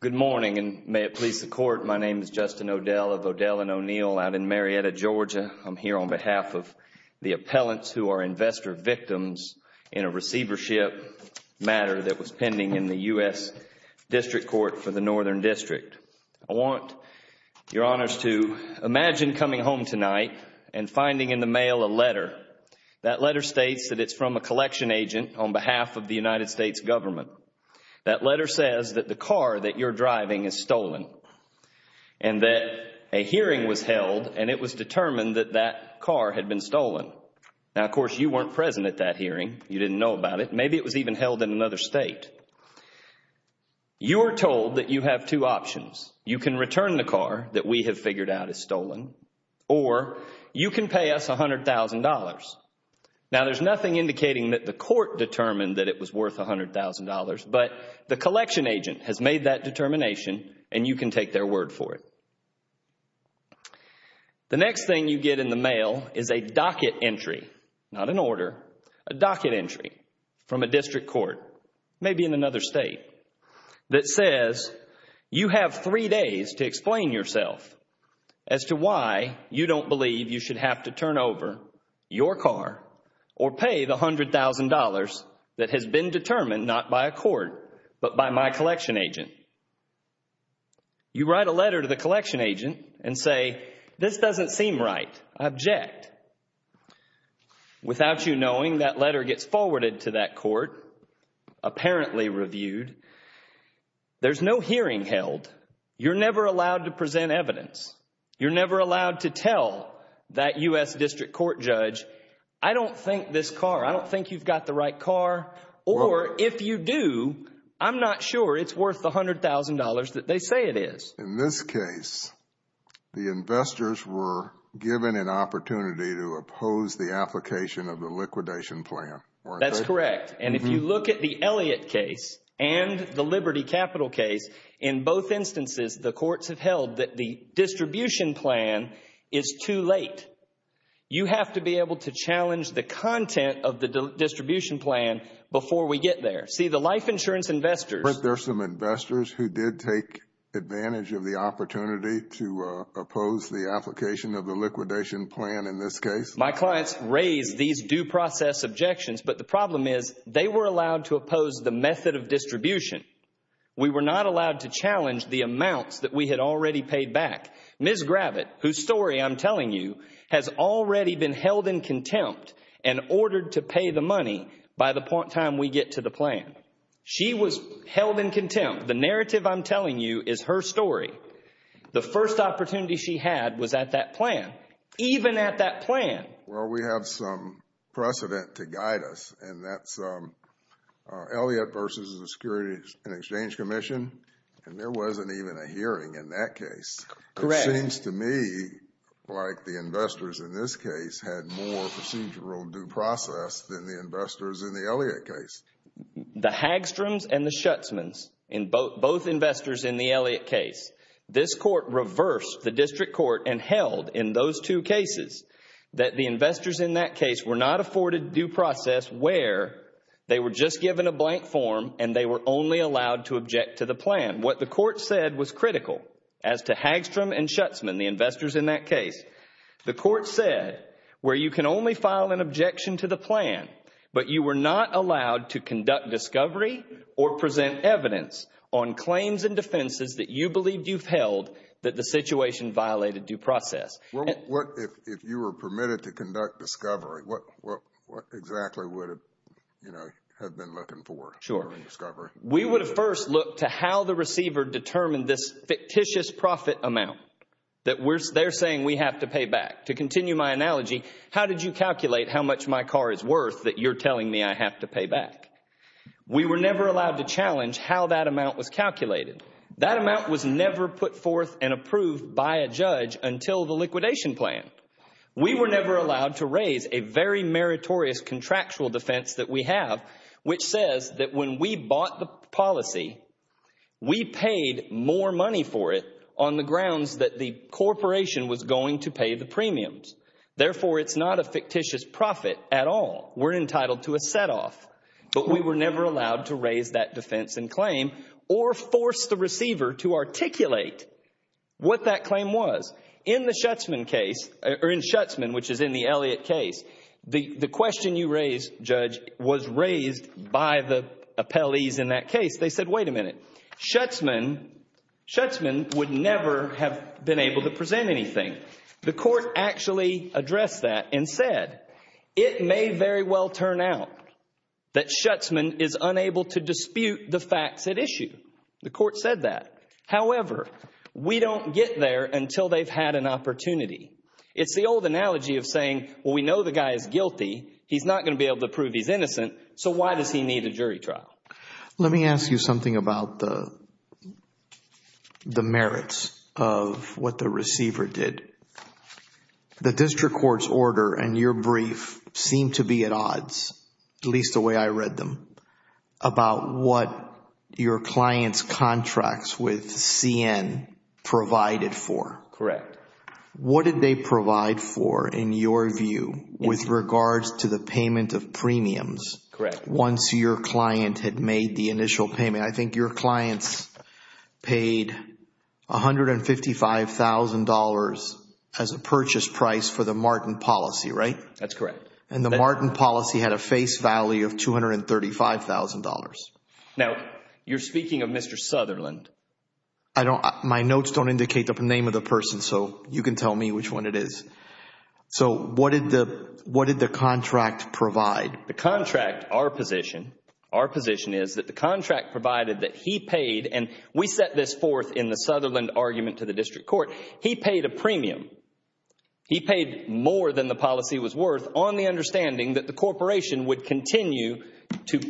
Good morning, and may it please the Court, my name is Justin O'Dell of O'Dell & O'Neill out in Marietta, Georgia. I'm here on behalf of the appellants who are investor victims in a receivership matter that was pending in the U.S. District Court for the Northern District. I want your Honors to imagine coming home tonight and finding in the mail a letter. That letter states that it's from a collection agent on behalf of the United States government. That letter says that the car that you're driving is stolen and that a hearing was held and it was determined that that car had been stolen. Now, of course, you weren't present at that hearing. You didn't know about it. Maybe it was even held in another state. You are told that you have two options. You can return the car that we have figured out is stolen or you can pay us $100,000. Now, there's nothing indicating that the Court determined that it was worth $100,000, but the collection agent has made that determination and you can take their word for it. The next thing you get in the mail is a docket entry, not an order, a docket entry from a district court, maybe in another state, that says you have three days to explain yourself as to why you don't believe you should have to turn over your car or pay the $100,000 that has been determined, not by a court, but by my collection agent. You write a letter to the collection agent and say, this doesn't seem right. Object. Without you knowing, that letter gets forwarded to that court, apparently reviewed. There's no hearing held. You're never allowed to present evidence. You're never allowed to tell that U.S. District Court judge, I don't think this car, I don't think you've got the right car, or if you do, I'm not sure it's worth the $100,000 that they say it is. In this case, the investors were given an opportunity to oppose the application of the liquidation plan. That's correct. If you look at the Elliott case and the Liberty Capital case, in both cases, you have to be able to challenge the content of the distribution plan before we get there. See, the life insurance investors- But there's some investors who did take advantage of the opportunity to oppose the application of the liquidation plan in this case. My clients raised these due process objections, but the problem is, they were allowed to oppose the method of distribution. We were not allowed to challenge the amount that we had already paid back. Ms. Gravitt, whose story I'm telling you, has already been held in contempt and ordered to pay the money by the time we get to the plan. She was held in contempt. The narrative I'm telling you is her story. The first opportunity she had was at that plan, even at that plan. We have some precedent to guide us, and that's Elliott versus the Securities and Exchange Commission, and there wasn't even a hearing in that case. Correct. It seems to me like the investors in this case had more procedural due process than the investors in the Elliott case. The Hagstroms and the Schutzmans, both investors in the Elliott case, this court reversed the district court and held in those two cases that the investors in that case were not afforded due process where they were just given a blank form and they were only allowed to object to the plan. What the court said was critical as to Hagstrom and Schutzman, the investors in that case. The court said where you can only file an objection to the plan, but you were not allowed to conduct discovery or present evidence on claims and defenses that you believed you've held that the situation violated due process. If you were permitted to conduct discovery, what exactly would you have been looking for? Sure. We would have first looked to how the receiver determined this fictitious profit amount that they're saying we have to pay back. To continue my analogy, how did you calculate how much my car is worth that you're telling me I have to pay back? We were never allowed to challenge how that amount was calculated. That amount was never put forth and approved by a judge until the liquidation plan. We were never allowed to raise a very meritorious contractual defense that we have, which says that when we bought the policy, we paid more money for it on the grounds that the corporation was going to pay the premiums. Therefore, it's not a fictitious profit at all. We're entitled to a set off, but we were never allowed to raise that defense and claim or force the receiver to articulate what that claim was. In the Schutzman case, or in Schutzman, which is in the Elliott case, the question you raised, Judge, was raised by the appellees in that case. They said, wait a minute. Schutzman would never have been able to present anything. The court actually addressed that and said, it may very well turn out that Schutzman is unable to dispute the facts at issue. The court said that. However, we don't get there until they've had an opportunity. It's the old analogy of saying, well, we know the guy is guilty. He's not going to be able to prove he's innocent, so why does he need a jury trial? Let me ask you something about the merits of what the receiver did. The district court's brief seemed to be at odds, at least the way I read them, about what your client's contracts with CN provided for. What did they provide for, in your view, with regards to the payment of premiums once your client had made the initial payment? I think your client paid $155,000 as a purchase price for the Martin policy, right? That's correct. The Martin policy had a face value of $235,000. You're speaking of Mr. Sutherland. My notes don't indicate the name of the person, so you can tell me which one it is. What did the contract provide? The contract, our position, our position is that the contract provided that he paid, and we set this forth in the Sutherland argument to the district court, he paid a premium. He paid more than the policy was worth on the understanding that the corporation would continue to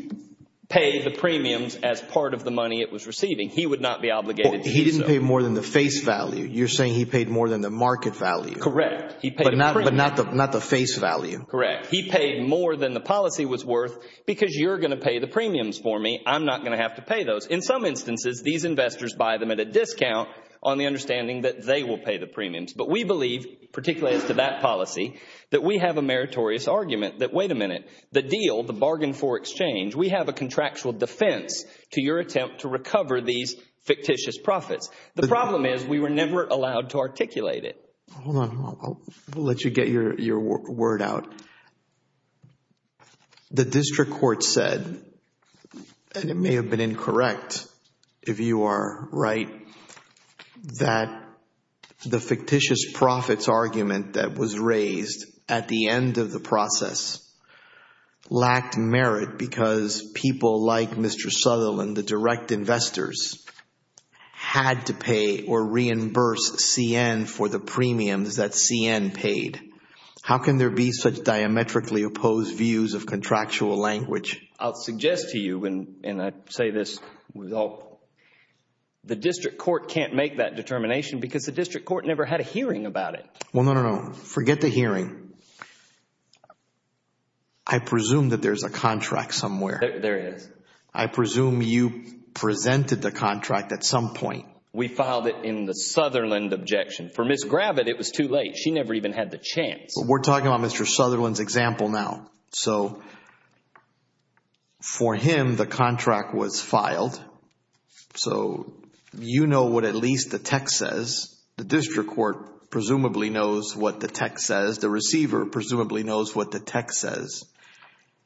pay the premiums as part of the money it was receiving. He would not be obligated to do so. He didn't pay more than the face value. You're saying he paid more than the market value. Correct. But not the face value. Correct. He paid more than the policy was worth because you're going to pay the premiums for me. I'm not going to have to pay those. In some instances, these investors buy them at a discount on the understanding that they will pay the premiums, but we believe, particularly as to that policy, that we have a meritorious argument that, wait a minute, the deal, the bargain for exchange, we have a contractual defense to your attempt to recover these fictitious profits. The problem is we were never allowed to articulate it. Hold on. I'll let you get your word out. The district court said, and it may have been incorrect if you are right, that the fictitious profits argument that was raised at the end of the process lacked merit because people like Mr. Sutherland, the direct investors, had to pay or reimburse CN for the premiums that CN paid. How can there be such diametrically opposed views of contractual language? I'll suggest to you, and I say this with all, the district court can't make that determination because the district court never had a hearing about it. No, no, no. Forget the hearing. I presume that there's a contract somewhere. There is. I presume you presented the contract at some point. We filed it in the Sutherland objection. For Ms. Gravitt, it was too late. She never even had the chance. We're talking about Mr. Sutherland's example now. For him, the contract was filed. You know what at least the text says. The district court presumably knows what the text says. The receiver presumably knows what the text says.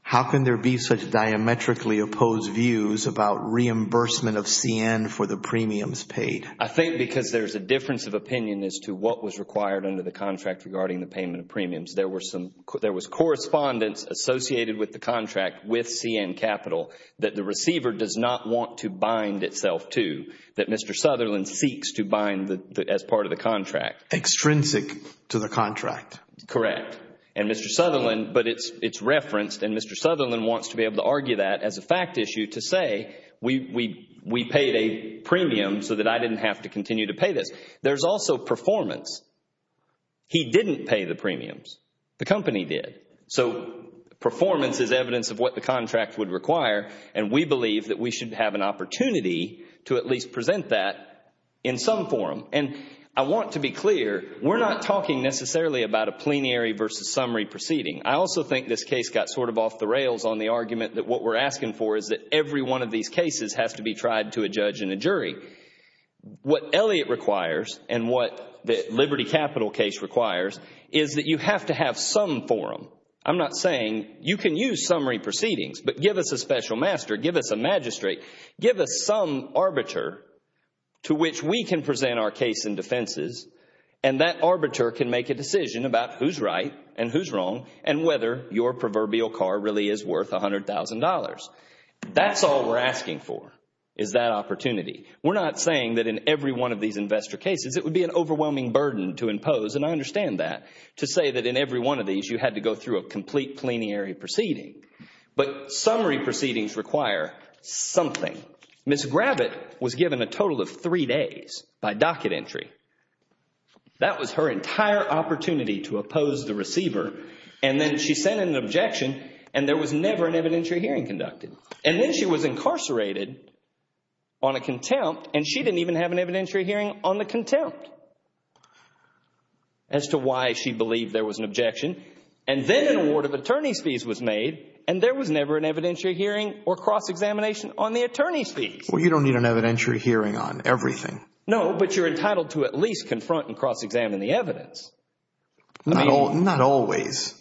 How can there be such diametrically opposed views about reimbursement of CN for the premiums paid? I think because there's a difference of opinion as to what was required under the contract regarding the payment of premiums. There was correspondence associated with the contract with CN Capital that the receiver does not want to bind itself to, that Mr. Sutherland seeks to bind as part of the contract. Extrinsic to the contract. Correct. And Mr. Sutherland, but it's referenced and Mr. Sutherland wants to be able to argue that as a fact issue to say we paid a premium so that I didn't have to continue to pay this. There's also performance. He didn't pay the premiums. The company did. So performance is evidence of what the contract would require and we believe that we should have an opportunity to at least present that in some form. I want to be clear, we're not talking necessarily about a plenary versus summary proceeding. I also think this case got sort of off the rails on the argument that what we're asking for is that every one of these cases has to be tried to a judge and a jury. What Elliott requires and what the Liberty Capital case requires is that you have to have some forum. I'm not saying you can use summary proceedings, but give us a special master, give us a magistrate, give us some arbiter to which we can present our case and defenses and that arbiter can make a decision about who's right and who's wrong and whether your proverbial car really is worth $100,000. That's all we're asking for is that opportunity. We're not saying that in every one of these investor cases it would be an overwhelming burden to impose and I understand that to say that in every one of these you had to go through a complete plenary proceeding, but summary proceedings require something. Ms. Gravitt was given a total of three days by docket entry. That was her entire opportunity to oppose the receiver and then she sent an objection and there was never an evidentiary hearing conducted. Then she was incarcerated on a contempt and she didn't even have an evidentiary hearing on the contempt as to why she believed there was an objection and then an award of attorney's fees was made and there was never an evidentiary hearing or cross-examination on the attorney's fees. Well, you don't need an evidentiary hearing on everything. No, but you're entitled to at least confront and cross-examine the evidence. Not always.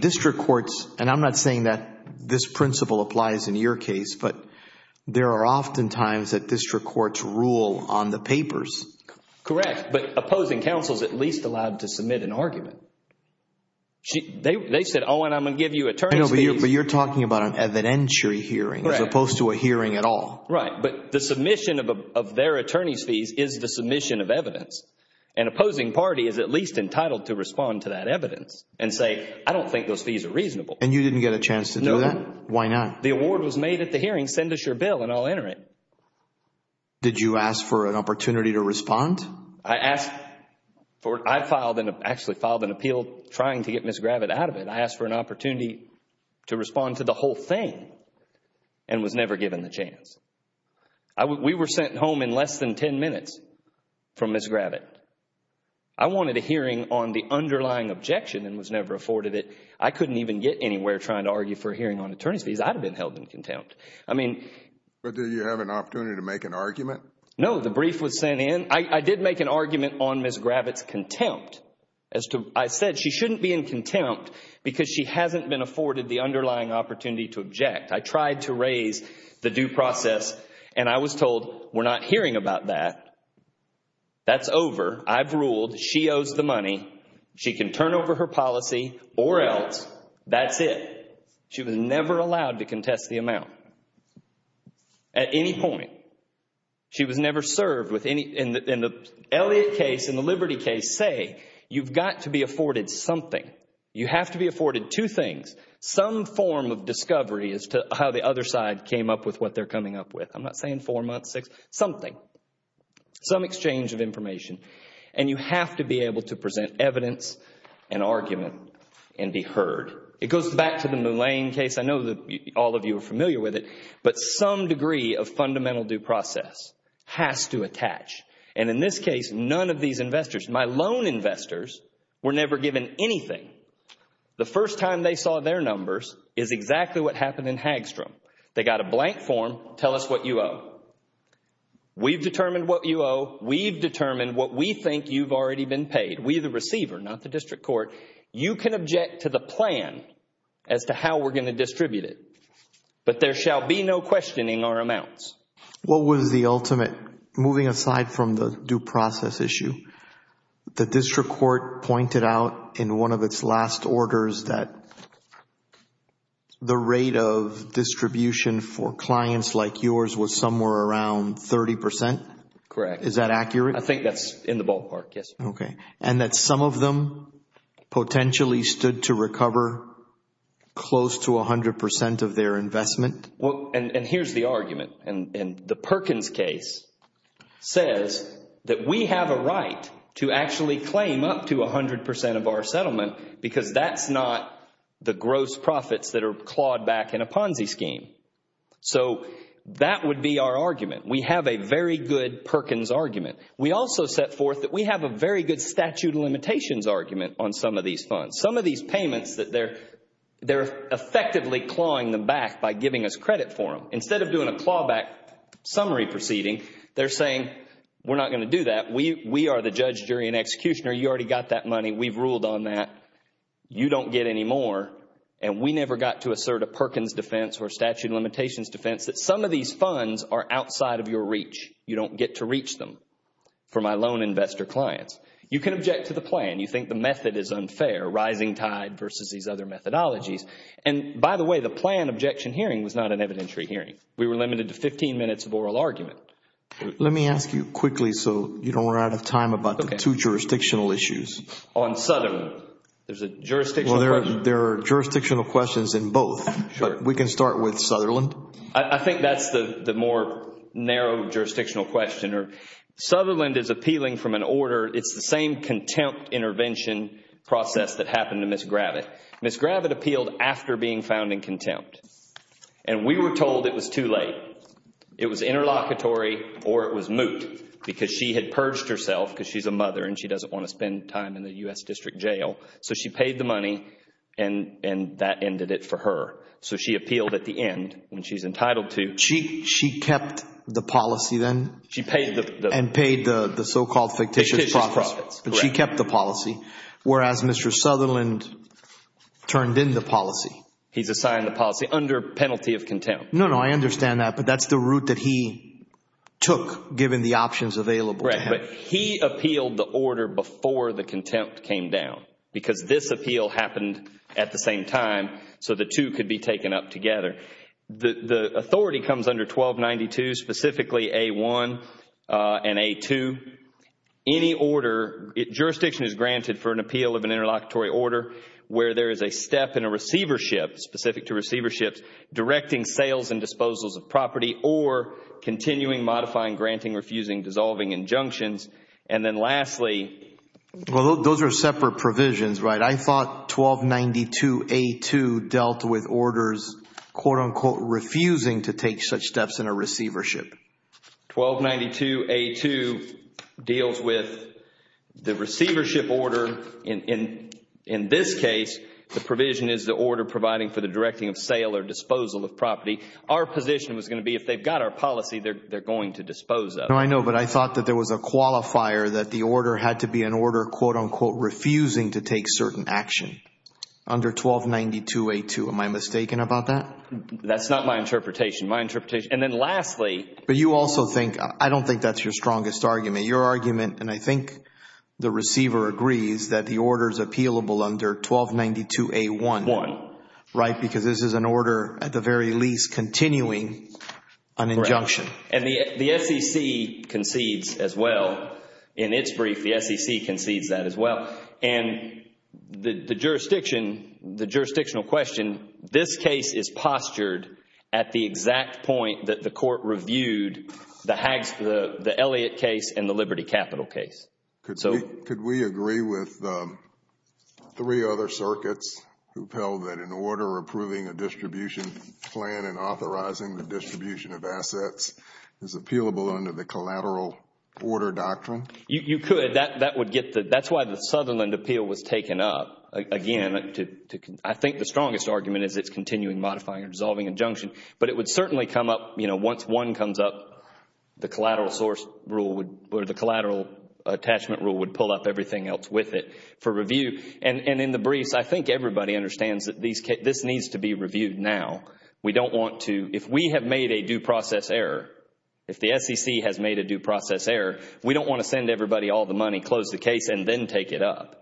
District courts, and I'm not saying that this principle applies in your case, but there are often times that district courts rule on the papers. Correct, but opposing counsel is at least allowed to submit an argument. They said, oh, and I'm going to give you attorney's fees. No, but you're talking about an evidentiary hearing as opposed to a hearing at all. Right, but the submission of their attorney's fees is the submission of evidence and opposing party is at least entitled to respond to that evidence and say, I don't think those fees are reasonable. And you didn't get a chance to do that? No. Why not? The award was made at the hearing. Send us your bill and I'll enter it. Did you ask for an opportunity to respond? I filed an appeal trying to get Ms. Gravitt out of it. I asked for an opportunity to respond to the whole thing and was never given the chance. We were sent home in less than 10 minutes from Ms. Gravitt. I wanted a hearing on the underlying objection and was never afforded it. I couldn't even get anywhere trying to argue for a hearing on attorney's fees. I'd have been held in contempt. But did you have an opportunity to make an argument? No, the brief was sent in. I did make an argument on Ms. Gravitt's contempt. I said she shouldn't be in contempt because she hasn't been afforded the underlying opportunity to object. I tried to raise the due process and I was told, we're not hearing about that. That's over. I've ruled. She owes the money. She can turn over her policy or else. That's it. She was never allowed to contest the amount at any point. She was never served with any... In the Elliott case, in the Liberty case, say, you've got to be afforded something. You have to be afforded two things, some form of discovery as to how the other side came up with what they're coming up with. I'm not saying four months, six, something, some exchange of information. You have to be able to present evidence and argument and be heard. It goes back to the Moulin case. I know all of you are familiar with it, but some degree of fundamental due process has to attach. In this case, none of these investors, my loan investors, were never given anything. The first time they saw their numbers is exactly what happened in Hagstrom. They got a blank form, tell us what you owe. We've determined what you owe. We've determined what we think you've already been paid. We the receiver, not the district court. You can object to the plan as to how we're going to distribute it, but there shall be no questioning our amounts. What was the ultimate... Moving aside from the due process issue, the district court pointed out in one of its last orders that the rate of distribution for clients like yours was somewhere around 30%. Correct. Is that accurate? I think that's in the ballpark, yes. Okay. And that some of them potentially stood to recover close to 100% of their investment? Here's the argument. The Perkins case says that we have a right to actually claim up to 100% of our settlement because that's not the gross profits that are clawed back in a Ponzi scheme. That would be our argument. We have a very good Perkins argument. We also set forth that we have a very good statute of limitations argument on some of these funds. Some of these payments that they're effectively clawing them back by giving us credit for them. Instead of doing a clawback summary proceeding, they're saying, we're not going to do that. We are the judge, jury, and executioner. You already got that money. We've ruled on that. You don't get any more. We never got to assert a Perkins defense or statute of limitations defense that some of these funds are outside of your reach. You don't get to reach them for my loan investor clients. You can object to the plan. You think the method is unfair, rising tide versus these other methodologies. By the way, the plan objection hearing was not an evidentiary hearing. We were limited to 15 minutes of oral argument. Let me ask you quickly so you don't run out of time about the two jurisdictional issues. On Sutherland, there's a jurisdictional question. There are jurisdictional questions in both. We can start with Sutherland. I think that's the more narrow jurisdictional question. Sutherland is appealing from an order. It's the same contempt intervention process that happened to Ms. Gravitt. Ms. Gravitt appealed after being found in contempt. We were told it was too late. It was interlocutory or it was moot because she had purged herself because she's a mother and she doesn't want to spend time in the U.S. District Jail. She paid the money and that ended it for her. She appealed at the end and she's entitled to- She kept the policy then? She paid the- And paid the so-called fictitious profits. Fictitious profits. She kept the policy, whereas Mr. Sutherland turned in the policy. He designed the policy under penalty of contempt. No, no. I understand that, but that's the route that he took given the options available to him. He appealed the order before the contempt came down because this appeal happened at the same time so the two could be taken up together. The authority comes under 1292, specifically A-1 and A-2. Any order, jurisdiction is granted for an appeal of an interlocutory order where there is a step in a receivership, specific to receiverships, directing sales and disposals of property or continuing, modifying, granting, refusing, dissolving injunctions. Then lastly- Those are separate provisions, right? I thought 1292 A-2 dealt with orders, quote unquote, refusing to take such steps in a receivership. 1292 A-2 deals with the receivership order. In this case, the provision is the order providing for the directing of sale or disposal of property. Our position was going to be if they've got our policy, they're going to dispose of it. I know, but I thought that there was a qualifier that the order had to be an order, quote unquote, refusing to take certain action under 1292 A-2. Am I mistaken about that? That's not my interpretation. My interpretation- Then lastly- You also think, I don't think that's your strongest argument. Your argument, and I think the receiver agrees, that the order is appealable under 1292 A-1. Right? Because this is an order, at the very least, continuing an injunction. The SEC concedes as well. In its brief, the SEC concedes that as well. The jurisdictional question, this case is postured at the exact point that the court reviewed the Elliott case and the Liberty Capital case. Could we agree with the three other circuits who tell that in order of approving a distribution plan and authorizing the distribution of assets is appealable under the collateral order doctrine? You could. That's why the Sutherland Appeal was taken up, again. I think the strongest argument is it's continuing modifying or dissolving injunction, but it would certainly come up, once one comes up, the collateral source rule or the collateral attachment rule would pull up everything else with it for review. In the brief, I think everybody understands that this needs to be reviewed now. We don't want to, if we have made a due process error, if the SEC has made a due process error, we don't want to send everybody all the money, close the case, and then take it up.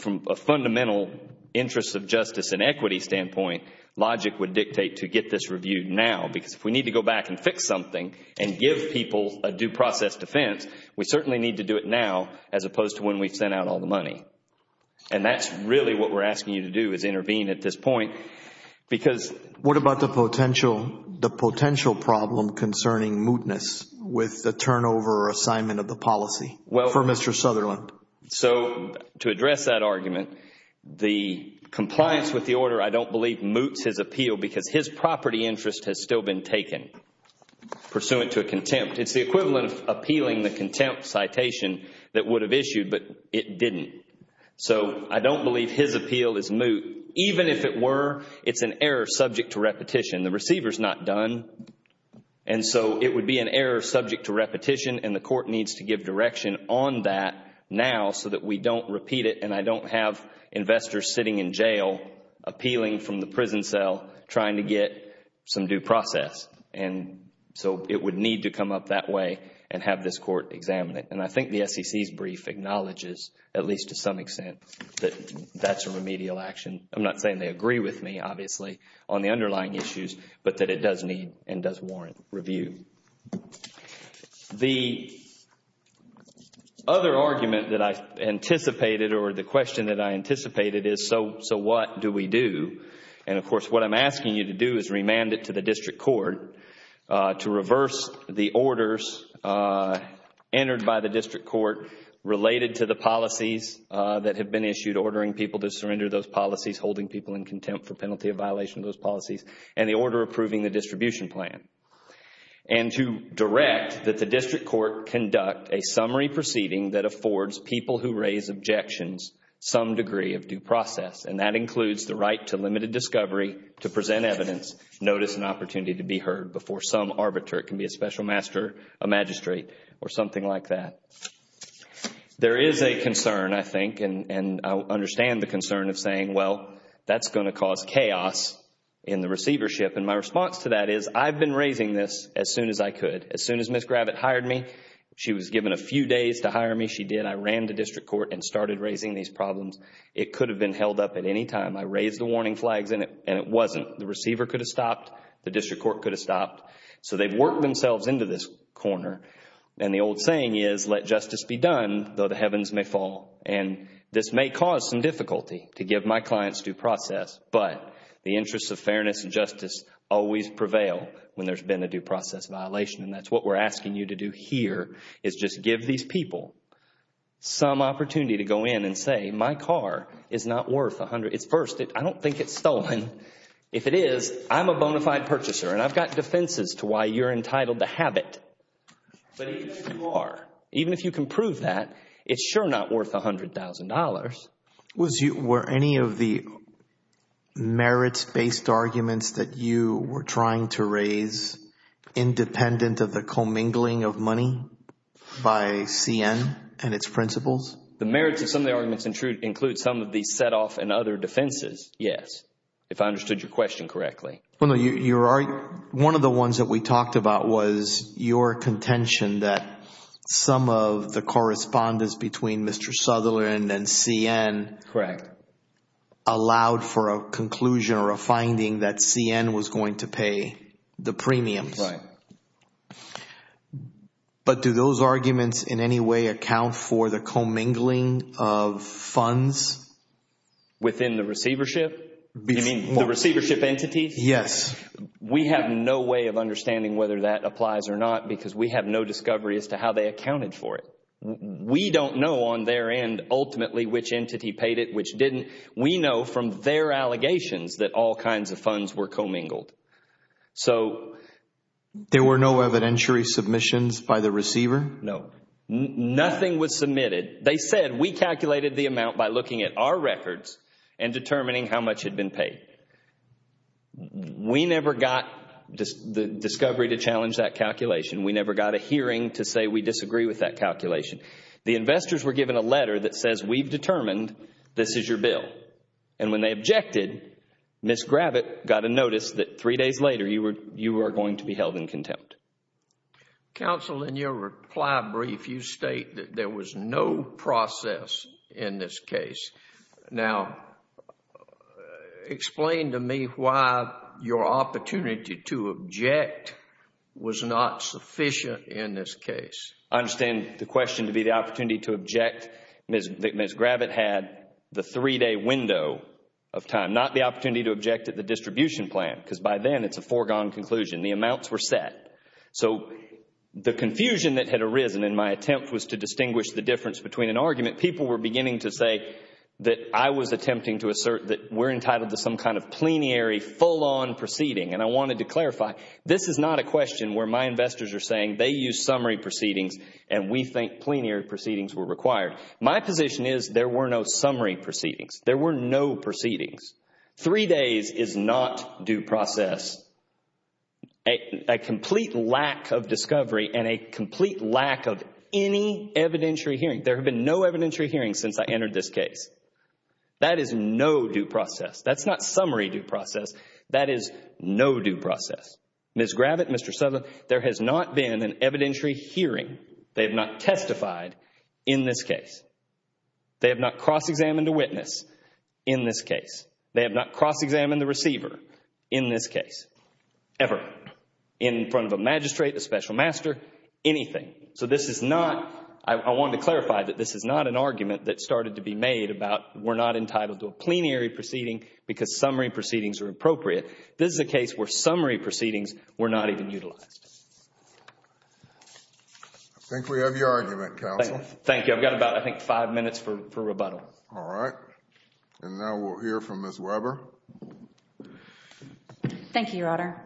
From a fundamental interest of justice and equity standpoint, logic would dictate to get this reviewed now, because if we need to go back and fix something and give people a due process defense, we certainly need to do it now, as opposed to when we sent out all the money. That's really what we're asking you to do, is intervene at this point, because... What about the potential problem concerning mootness with the turnover or assignment of the policy for Mr. Sutherland? To address that argument, the compliance with the order, I don't believe, moots his appeal because his property interest has still been taken, pursuant to a contempt. It's the equivalent of appealing the contempt citation that would have issued, but it didn't. I don't believe his appeal is moot. Even if it were, it's an error subject to repetition. The receiver's not done. It would be an error subject to repetition, and the court needs to give direction on that now so that we don't repeat it, and I don't have investors sitting in jail, appealing from the prison cell, trying to get some due process. It would need to come up that way and have this court examine it. I think the SEC's brief acknowledges, at least to some extent, that that's a remedial action. I'm not saying they agree with me, obviously, on the underlying issues, but that it does need and does warrant review. The other argument that I anticipated, or the question that I anticipated is, so what do we do? Of course, what I'm asking you to do is remand it to the district court to reverse the orders entered by the district court related to the policies that have been issued, ordering people to surrender those policies, holding people in contempt for penalty of violation of those policies, and the order approving the distribution plan, and to direct that the district court conduct a summary proceeding that affords people who raise objections some degree of due process. That includes the right to limited discovery, to present evidence, notice, and opportunity to be heard before some arbiter. It can be a special master, a magistrate, or something like that. There is a concern, I think, and I understand the concern of saying, well, that's going to cause chaos in the receivership. My response to that is, I've been raising this as soon as I could. As soon as Ms. Gravitt hired me, she was given a few days to hire me. She did. I ran the district court and started raising these problems. It could have been held up at any time. I raised the warning flags, and it wasn't. The receiver could have stopped. The district court could have stopped. They've worked themselves into this corner. The old saying is, let justice be done, though the heavens may fall. This may cause some difficulty to give my clients due process, but the interests of fairness and justice always prevail when there's been a due process violation. That's what we're asking you to do here, is just give these people some opportunity to go in and say, my car is not worth $100,000. First, I don't think it's stolen. If it is, I'm a bonafide purchaser, and I've got defenses to why you're entitled to have it. But even if you are, even if you can prove that, it's sure not worth $100,000. Were any of the merits-based arguments that you were trying to raise independent of the commingling of money by CN and its principles? The merits of some of the arguments included some of the set-off and other defenses, yes, if I understood your question correctly. One of the ones that we talked about was your contention that some of the correspondence between Mr. Sutherland and CN allowed for a conclusion or a finding that CN was going to pay the premium. Right. But do those arguments in any way account for the commingling of funds within the receivership? You mean the receivership entities? Yes. We have no way of understanding whether that applies or not because we have no discovery as to how they accounted for it. We don't know on their end ultimately which entity paid it, which didn't. We know from their allegations that all kinds of funds were commingled. There were no evidentiary submissions by the receiver? No. Nothing was submitted. They said, we calculated the amount by looking at our records and determining how much had been paid. We never got the discovery to challenge that calculation. We never got a hearing to say we disagree with that calculation. The investors were given a letter that says, we've determined this is your bill. When they objected, Ms. Gravitt got a notice that three days later you were going to be held in contempt. Counsel, in your reply brief, you state that there was no process in this case. Now, explain to me why your opportunity to object was not sufficient in this case. I understand the question to be the opportunity to object. Ms. Gravitt had the three-day window of time, not the opportunity to object at the distribution plan because by then it's a foregone conclusion. The amounts were set. The confusion that had arisen in my attempt was to distinguish the difference between an argument. People were beginning to say that I was attempting to assert that we're entitled to some kind of plenary full-on proceeding. I wanted to clarify, this is not a question where my investors are saying they used summary proceedings and we think plenary proceedings were required. My position is there were no summary proceedings. There were no proceedings. Three days is not due process. A complete lack of discovery and a complete lack of any evidentiary hearing. There have been no evidentiary hearings since I entered this case. That is no due process. That's not summary due process. That is no due process. Ms. Gravitt, Mr. Souther, there has not been an evidentiary hearing. They have not testified in this case. They have not cross-examined a witness in this case. They have not cross-examined the receiver in this case, ever, in front of a magistrate, a special master, anything. This is not, I wanted to clarify that this is not an argument that started to be made about we're not entitled to a plenary proceeding because summary proceedings are appropriate. This is a case where summary proceedings were not even utilized. I think we have your argument, counsel. Thank you. I've got about, I think, five minutes for rebuttal. All right. Now, we'll hear from Ms. Weber. Thank you, Your Honor.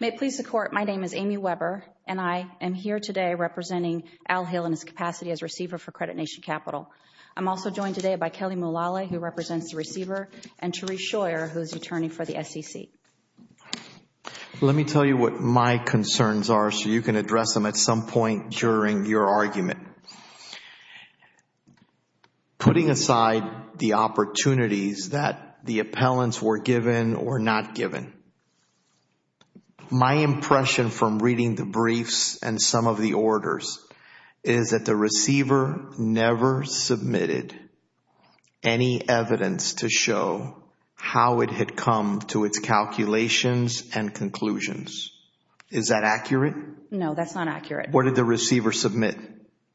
May it please the Court, my name is Amy Weber and I am here today representing Al Hale in his capacity as receiver for Credit Nation Capital. I'm also joined today by Kelly Mulally, who represents the receiver, and Terese Scheuer, who is attorney for the SEC. Let me tell you what my concerns are so you can address them at some point during your argument. Putting aside the opportunities that the appellants were given or not given, my impression from reading the briefs and some of the orders is that the receiver never submitted any evidence to show how it had come to its calculations and conclusions. Is that accurate? No, that's not accurate. Where did the receiver submit?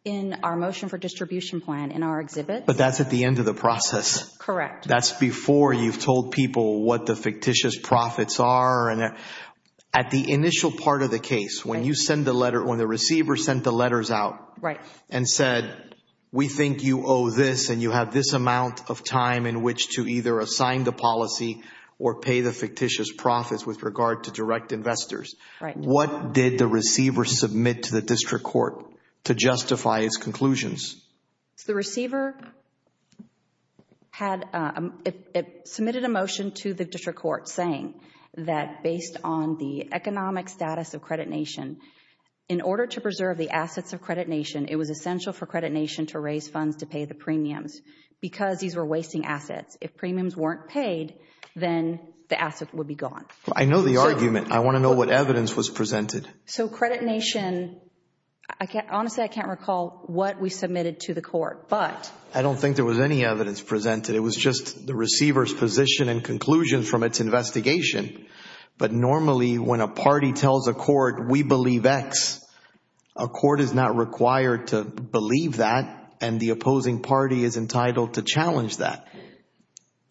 In our motion for distribution plan, in our exhibit. But that's at the end of the process. Correct. That's before you've told people what the fictitious profits are. At the initial part of the case, when you send the letter, when the receiver sent the to either assign the policy or pay the fictitious profits with regard to direct investors. What did the receiver submit to the district court to justify its conclusions? The receiver submitted a motion to the district court saying that based on the economic status of Credit Nation, in order to preserve the assets of Credit Nation, it was essential for Credit Nation to raise funds to pay the premiums because these were wasting assets. If premiums weren't paid, then the assets would be gone. I know the argument. I want to know what evidence was presented. So Credit Nation, honestly, I can't recall what we submitted to the court, but... I don't think there was any evidence presented. It was just the receiver's position and conclusions from its investigation. Normally, when a party tells a court, we believe X, a court is not required to believe that and the opposing party is entitled to challenge that.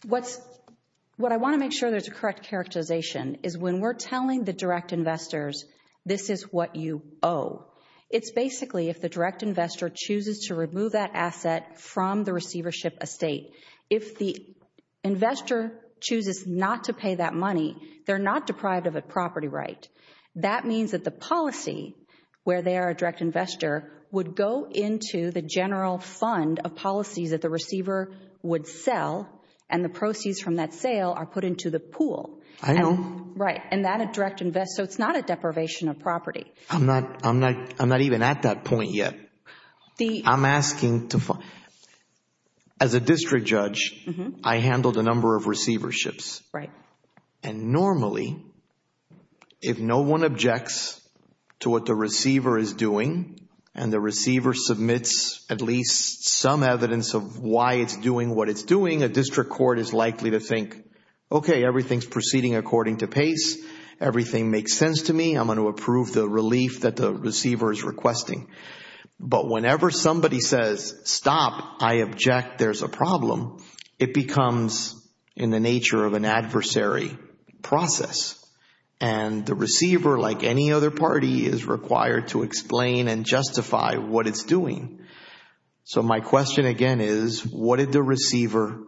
What I want to make sure there's a correct characterization is when we're telling the direct investors, this is what you owe, it's basically if the direct investor chooses to remove that asset from the receivership estate. If the investor chooses not to pay that money, they're not deprived of a property right. That means that the policy, where they are a direct investor, would go into the general fund, a policy that the receiver would sell, and the proceeds from that sale are put into the pool. I know. Right. And that a direct investor, so it's not a deprivation of property. I'm not even at that point yet. I'm asking to... As a district judge, I handled a number of receiverships. And normally, if no one objects to what the receiver is doing, and the receiver submits at least some evidence of why it's doing what it's doing, a district court is likely to think, okay, everything's proceeding according to pace. Everything makes sense to me. I'm going to approve the relief that the receiver is requesting. But whenever somebody says, stop, I object, there's a problem, it becomes in the nature of an adversary process. And the receiver, like any other party, is required to explain and justify what it's doing. So my question again is, what did the receiver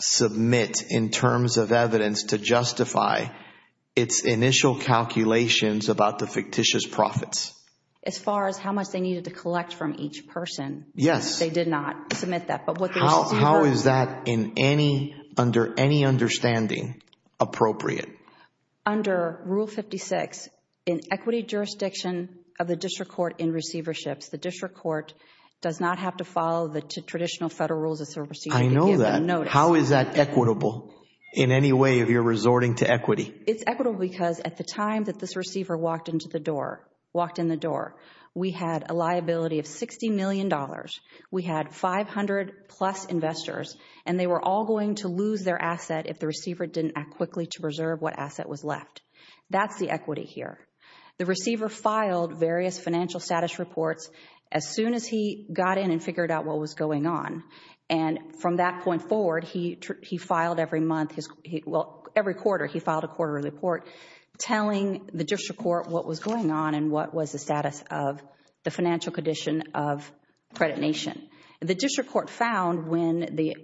submit in terms of evidence to justify its initial calculations about the fictitious profits? As far as how much they needed to collect from each person. Yes. They did not submit that. But what the receiver... How is that in any... Under any understanding appropriate? Under Rule 56, in equity jurisdiction of the district court in receiverships, the district court does not have to follow the traditional federal rules of the receiver to give that notice. I know that. How is that equitable in any way if you're resorting to equity? It's equitable because at the time that this receiver walked into the door, walked in the door, we had a liability of $60 million. We had 500-plus investors. And they were all going to lose their asset if the receiver didn't act quickly to preserve what asset was left. That's the equity here. The receiver filed various financial status reports as soon as he got in and figured out what was going on. And from that point forward, he filed every month, well, every quarter, he filed a quarterly report telling the district court what was going on and what was the status of the financial condition of Credit Nation. The district court found when the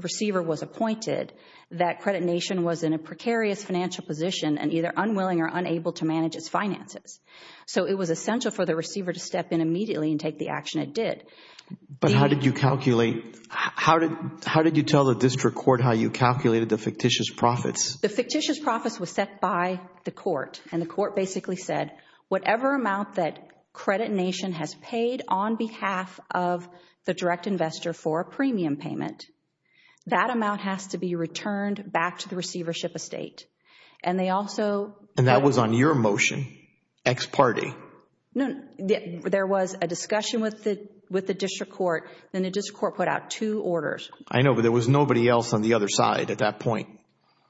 receiver was appointed that Credit Nation was in a precarious financial position and either unwilling or unable to manage its finances. So it was essential for the receiver to step in immediately and take the action it did. But how did you calculate, how did you tell the district court how you calculated the fictitious profits? The fictitious profits were set by the court. And the court basically said, whatever amount that Credit Nation has paid on behalf of the direct investor for a premium payment, that amount has to be returned back to the receivership estate. And that was on your motion, ex parte. No, there was a discussion with the district court and the district court put out two orders. I know, but there was nobody else on the other side at that point.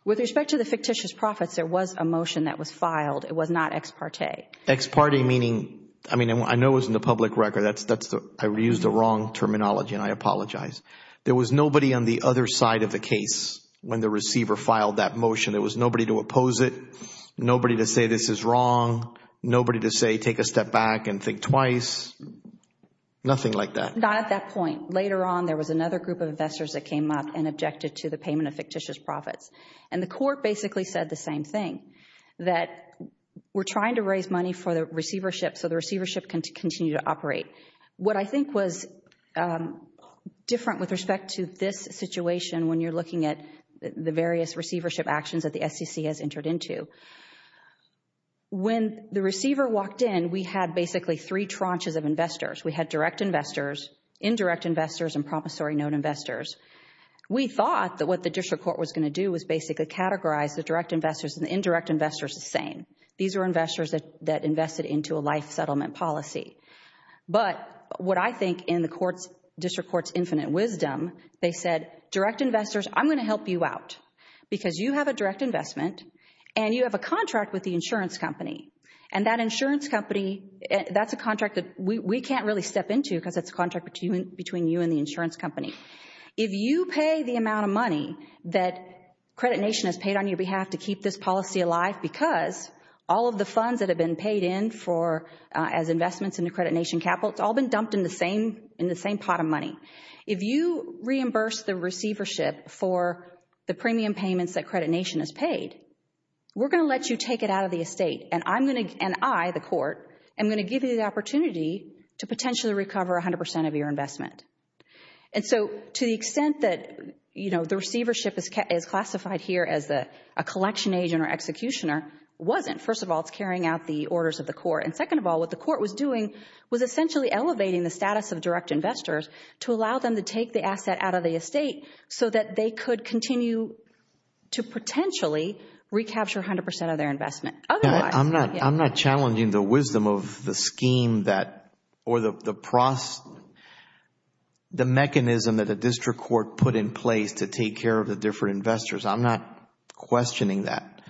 With respect to the fictitious profits, there was a motion that was filed, it was not ex parte. Ex parte meaning, I mean, I know it was in the public record, I used the wrong terminology and I apologize. There was nobody on the other side of the case when the receiver filed that motion. There was nobody to oppose it, nobody to say this is wrong, nobody to say, take a step back and think twice, nothing like that. But at that point, later on, there was another group of investors that came up and objected to the payment of fictitious profits. And the court basically said the same thing, that we're trying to raise money for the receivership so the receivership can continue to operate. What I think was different with respect to this situation when you're looking at the various receivership actions that the SEC has entered into, when the receiver walked in, we had basically three tranches of investors. We had direct investors, indirect investors, and promissory note investors. We thought that what the district court was going to do was basically categorize the direct investors and the indirect investors the same. These are investors that invested into a life settlement policy. But what I think in the district court's infinite wisdom, they said, direct investors, I'm going to help you out because you have a direct investment and you have a contract with the insurance company. And that insurance company, that's a contract that we can't really step into because it's a contract between you and the insurance company. If you pay the amount of money that Credit Nation has paid on your behalf to keep this policy alive because all of the funds that have been paid in for as investments in the Credit Nation capital, it's all been dumped in the same pot of money. If you reimburse the receivership for the premium payments that Credit Nation has paid, we're going to let you take it out of the estate, and I, the court, am going to give you the opportunity to potentially recover 100% of your investment. And so to the extent that the receivership is classified here as a collection agent or executioner wasn't, first of all, it's carrying out the orders of the court. And second of all, what the court was doing was essentially elevating the status of direct investors to allow them to take the asset out of the estate so that they could continue to potentially recapture 100% of their investment. Other than that, yeah. I'm not challenging the wisdom of the scheme that or the process, the mechanism that the district court put in place to take care of the different investors. I'm not questioning that.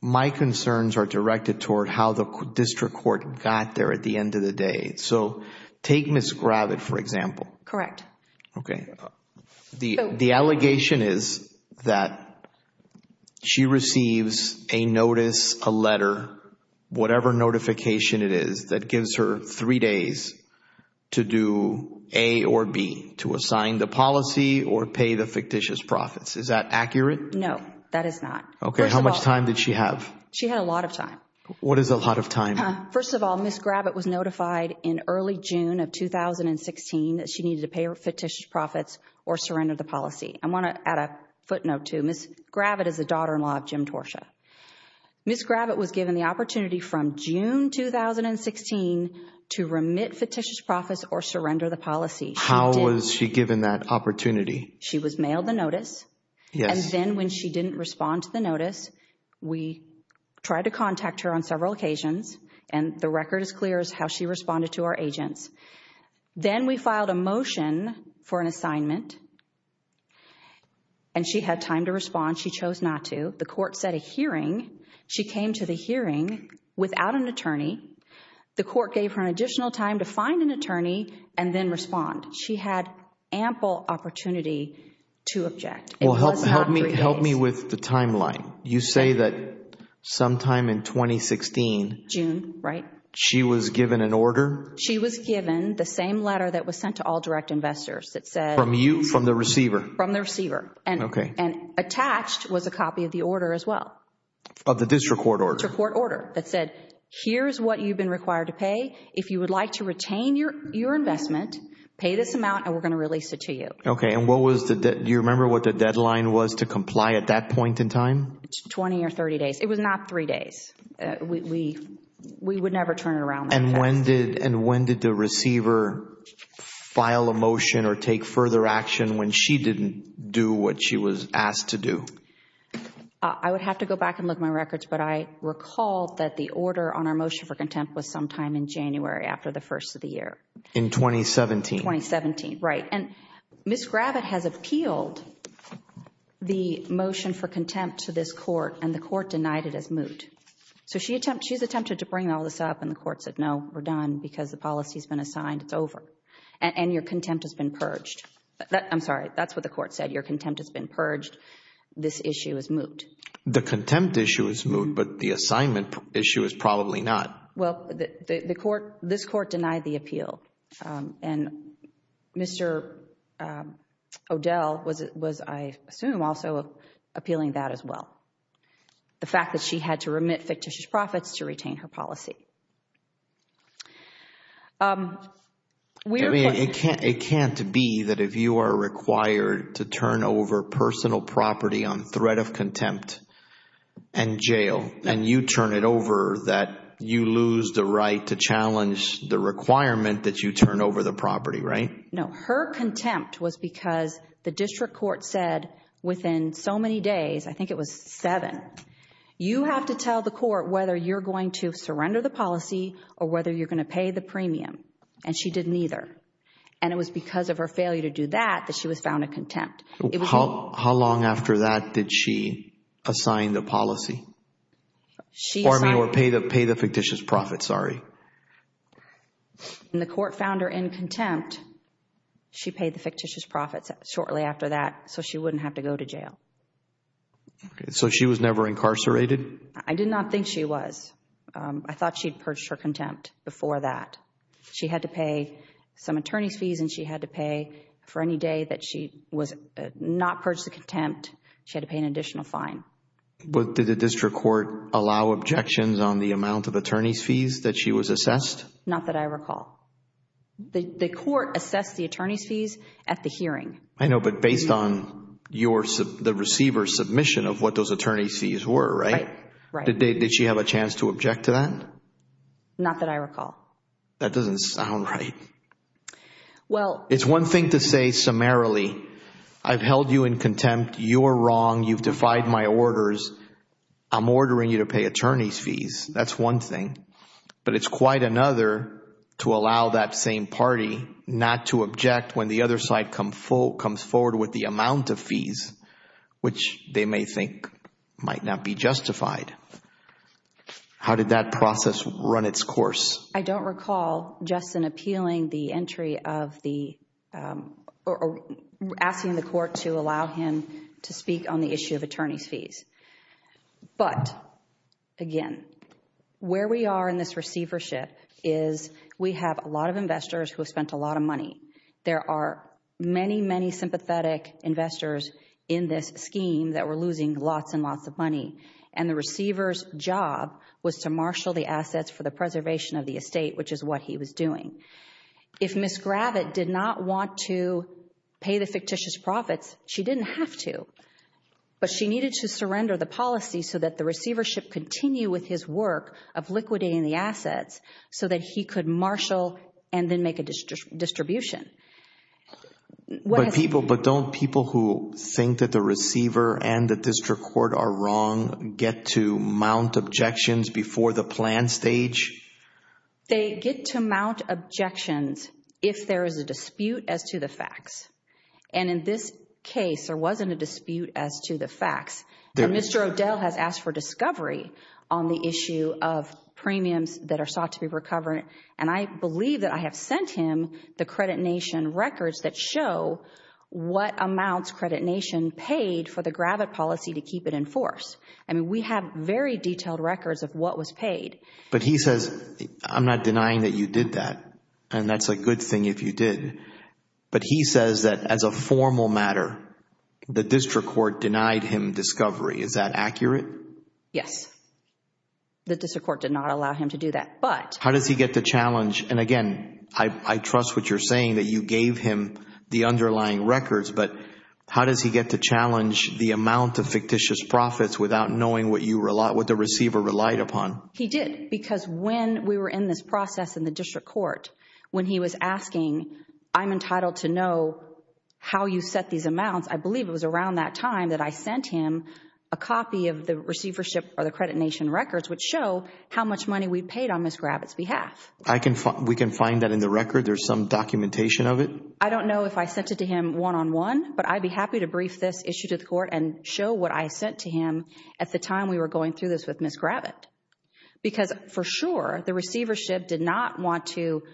My concerns are directed toward how the district court got there at the end of the day. So take Ms. Gravitt, for example. Correct. Okay. The allegation is that she receives a notice, a letter, whatever notification it is that gives her three days to do A or B, to assign the policy or pay the fictitious profits. Is that accurate? No, that is not. Okay. How much time did she have? She had a lot of time. What is a lot of time? First of all, Ms. Gravitt was notified in early June of 2016 that she needed to pay her fictitious profits or surrender the policy. I want to add a footnote to Ms. Gravitt is the daughter-in-law of Jim Torsha. Ms. Gravitt was given the opportunity from June 2016 to remit fictitious profits or surrender the policy. How was she given that opportunity? She was mailed the notice. Yes. And then when she did not respond to the notice, we tried to contact her on several occasions and the record is clear as how she responded to our agents. Then we filed a motion for an assignment and she had time to respond. She chose not to. The court set a hearing. She came to the hearing without an attorney. The court gave her an additional time to find an attorney and then respond. She had ample opportunity to object. Help me with the timeline. You say that sometime in 2016, she was given an order? She was given the same letter that was sent to all direct investors that said... From you? From the receiver? From the receiver. Okay. Attached was a copy of the order as well. Of the district court order? District court order that said, here's what you've been required to pay. If you would like to retain your investment, pay this amount and we're going to release it to you. Okay. And what was the... Do you remember what the deadline was to comply at that point in time? 20 or 30 days. It was not three days. We would never turn it around. And when did the receiver file a motion or take further action when she didn't do what she was asked to do? I would have to go back and look at my records, but I recall that the order on our motion for contempt was sometime in January after the first of the year. In 2017? 2017. Right. And Ms. Gravitt has appealed the motion for contempt to this court and the court denied it as moot. So, she's attempted to bring all this up and the court said, no, we're done because the policy has been assigned, it's over. And your contempt has been purged. I'm sorry, that's what the court said, your contempt has been purged, this issue is moot. The contempt issue is moot, but the assignment issue is probably not. Well, this court denied the appeal. And Mr. O'Dell was, I assume, also appealing that as well, the fact that she had to remit fictitious profits to retain her policy. It can't be that if you are required to turn over personal property on threat of contempt and jail, and you turn it over, that you lose the right to challenge the requirement that you turn over the property, right? No. Her contempt was because the district court said within so many days, I think it was seven, you have to tell the court whether you're going to surrender the policy or whether you're going to pay the premium. And she didn't either. And it was because of her failure to do that that she was found in contempt. How long after that did she assign the policy? Or, I mean, pay the fictitious profits, sorry. The court found her in contempt. She paid the fictitious profits shortly after that, so she wouldn't have to go to jail. So she was never incarcerated? I did not think she was. I thought she purged her contempt before that. She had to pay some attorney fees and she had to pay for any day that she was not purged of contempt, she had to pay an additional fine. But did the district court allow objections on the amount of attorney fees that she was assessed? Not that I recall. The court assessed the attorney fees at the hearing. I know, but based on the receiver's submission of what those attorney fees were, right? Right. Did she have a chance to object to that? No. Not that I recall. That doesn't sound right. Well... It's one thing to say summarily, I've held you in contempt, you're wrong, you've defied my orders, I'm ordering you to pay attorney's fees, that's one thing. But it's quite another to allow that same party not to object when the other side comes forward with the amount of fees, which they may think might not be justified. How did that process run its course? I don't recall Justin appealing the entry of the... Asking the court to allow him to speak on the issue of attorney fees. But again, where we are in this receivership is we have a lot of investors who have spent a lot of money. There are many, many sympathetic investors in this scheme that were losing lots and lots of money and the receiver's job was to marshal the assets for the preservation of the estate, which is what he was doing. If Ms. Gravitt did not want to pay the fictitious profits, she didn't have to, but she needed to surrender the policy so that the receivership continue with his work of liquidating the assets so that he could marshal and then make a distribution. But don't people who think that the receiver and the district court are wrong get to mount objections before the plan stage? They get to mount objections if there is a dispute as to the facts. In this case, there wasn't a dispute as to the facts. Mr. O'Dell has asked for discovery on the issue of premiums that are sought to be recovered. I believe that I have sent him the Credit Nation records that show what amounts Credit Nation paid for the Gravitt policy to keep it enforced. We have very detailed records of what was paid. But he says, I'm not denying that you did that and that's a good thing if you did, but he says that as a formal matter, the district court denied him discovery. Is that accurate? Yes. The district court did not allow him to do that. How does he get to challenge, and again, I trust what you're saying that you gave him the underlying records, but how does he get to challenge the amount of fictitious profits without knowing what the receiver relied upon? He did because when we were in this process in the district court, when he was asking, I'm entitled to know how you set these amounts, I believe it was around that time that I sent him a copy of the receivership or the Credit Nation records which show how much money we had on Ms. Gravitt's behalf. We can find that in the record? There's some documentation of it? I don't know if I sent it to him one-on-one, but I'd be happy to brief this issue to the court and show what I sent to him at the time we were going through this with Ms. Gravitt. Because for sure, the receivership did not want to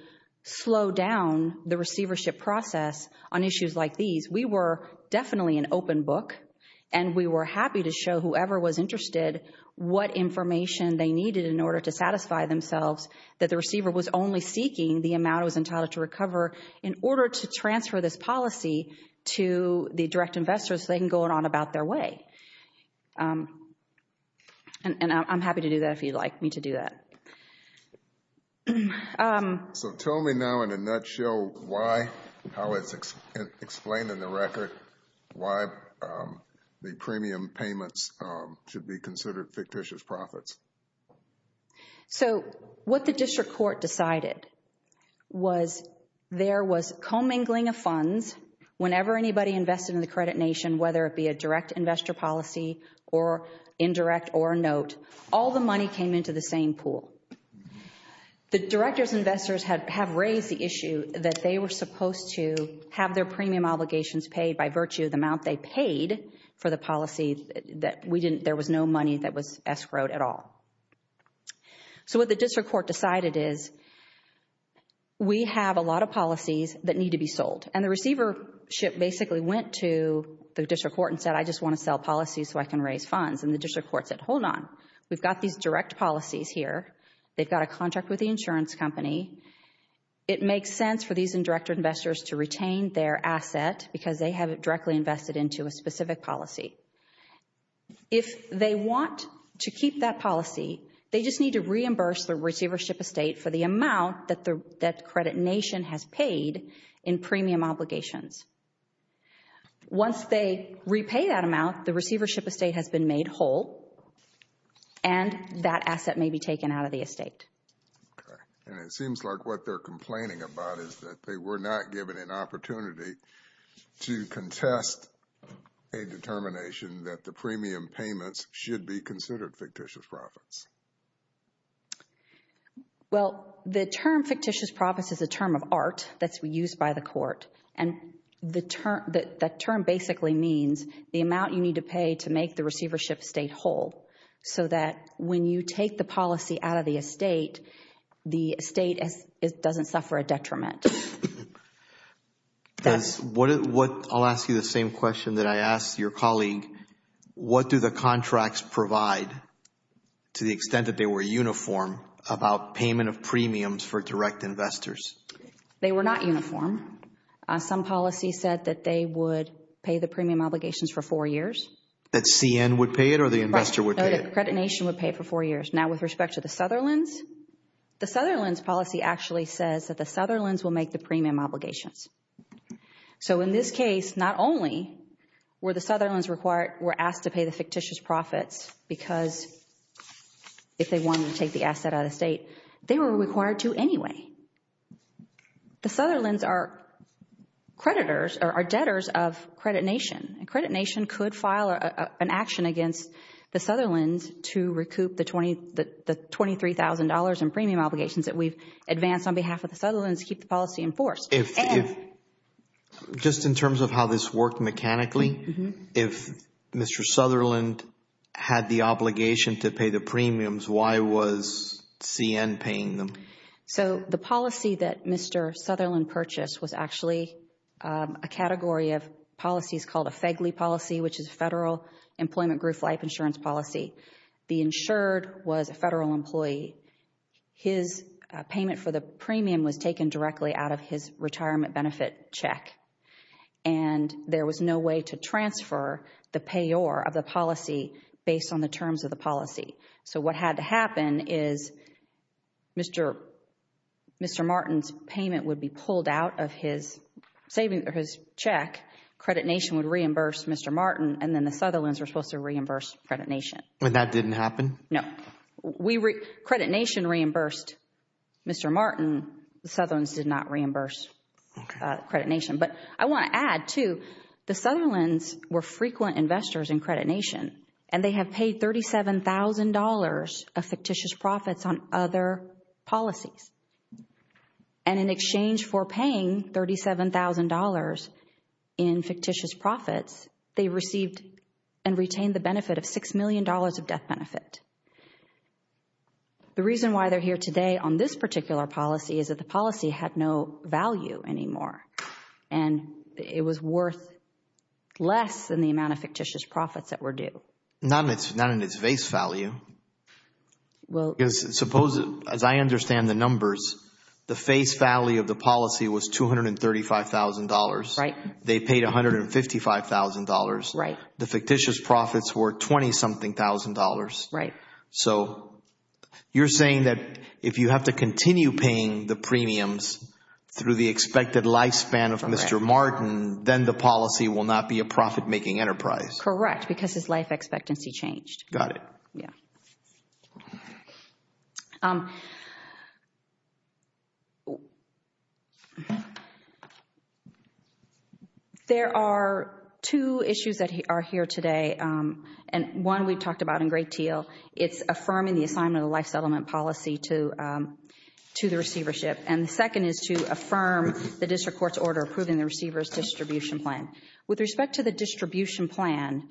slow down the receivership process on issues like these. We were definitely an open book and we were happy to show whoever was interested what information they needed in order to satisfy themselves that the receiver was only seeking the amount it was entitled to recover in order to transfer this policy to the direct investors so they can go on about their way. I'm happy to do that if you'd like me to do that. Tell me now in a nutshell why, how it's explained in the record, why the premium payments should be considered fictitious profits. So, what the district court decided was there was commingling of funds whenever anybody invested in the credit nation, whether it be a direct investor policy or indirect or a note, all the money came into the same pool. The director's investors have raised the issue that they were supposed to have their premium obligations paid by virtue of the amount they paid for the policies that we didn't, there was no money that was escrowed at all. So, what the district court decided is we have a lot of policies that need to be sold. And the receivership basically went to the district court and said, I just want to sell policies so I can raise funds. And the district court said, hold on, we've got these direct policies here. They've got a contract with the insurance company. It makes sense for these indirect investors to retain their asset because they have it directly invested into a specific policy. If they want to keep that policy, they just need to reimburse the receivership estate for the amount that credit nation has paid in premium obligations. Once they repay that amount, the receivership estate has been made whole and that asset may be taken out of the estate. Okay. And it seems like what they're complaining about is that they were not given an opportunity to contest a determination that the premium payments should be considered fictitious profits. Well, the term fictitious profits is a term of art that's used by the court. And the term, that term basically means the amount you need to pay to make the receivership estate whole so that when you take the policy out of the estate, the estate doesn't suffer a detriment. I'll ask you the same question that I asked your colleague. What do the contracts provide to the extent that they were uniform about payment of premiums for direct investors? They were not uniform. Some policy said that they would pay the premium obligations for four years. That CN would pay it or the investor would pay it? Credit nation would pay it for four years. Now with respect to the Sutherlands, the Sutherlands policy actually says that the Sutherlands will make the premium obligations. So in this case, not only were the Sutherlands required, were asked to pay the fictitious profits because if they wanted to take the asset out of the estate, they were required to anyway. The Sutherlands are creditors or are debtors of credit nation. Credit nation could file an action against the Sutherlands to recoup the $23,000 in premium obligations that we've advanced on behalf of the Sutherlands to keep the policy enforced. Just in terms of how this worked mechanically, if Mr. Sutherland had the obligation to pay the premiums, why was CN paying them? The policy that Mr. Sutherland purchased was actually a category of policies called a FEGLI policy which is Federal Employment Group Life Insurance Policy. The insured was a federal employee. His payment for the premium was taken directly out of his retirement benefit check and there was no way to transfer the payor of the policy based on the terms of the policy. So what had to happen is Mr. Martin's payment would be pulled out of his check. Credit nation would reimburse Mr. Martin and then the Sutherlands were supposed to reimburse credit nation. But that didn't happen? No. Credit nation reimbursed Mr. Martin, the Sutherlands did not reimburse credit nation. But I want to add too, the Sutherlands were frequent investors in credit nation and they have paid $37,000 of fictitious profits on other policies. And in exchange for paying $37,000 in fictitious profits, they received and retained the benefit of $6 million of death benefit. The reason why they're here today on this particular policy is that the policy had no value anymore and it was worth less than the amount of fictitious profits that were due. Not in its base value. Suppose as I understand the numbers, the face value of the policy was $235,000. They paid $155,000. The fictitious profits were $20-something thousand. So you're saying that if you have to continue paying the premiums through the expected lifespan of Mr. Martin, then the policy will not be a profit-making enterprise. Correct. Because his life expectancy changed. Got it. There are two issues that are here today and one we talked about in great deal. It's affirming the assignment of the life settlement policy to the receivership and the second is to affirm the district court's order approving the receiver's distribution plan. With respect to the distribution plan,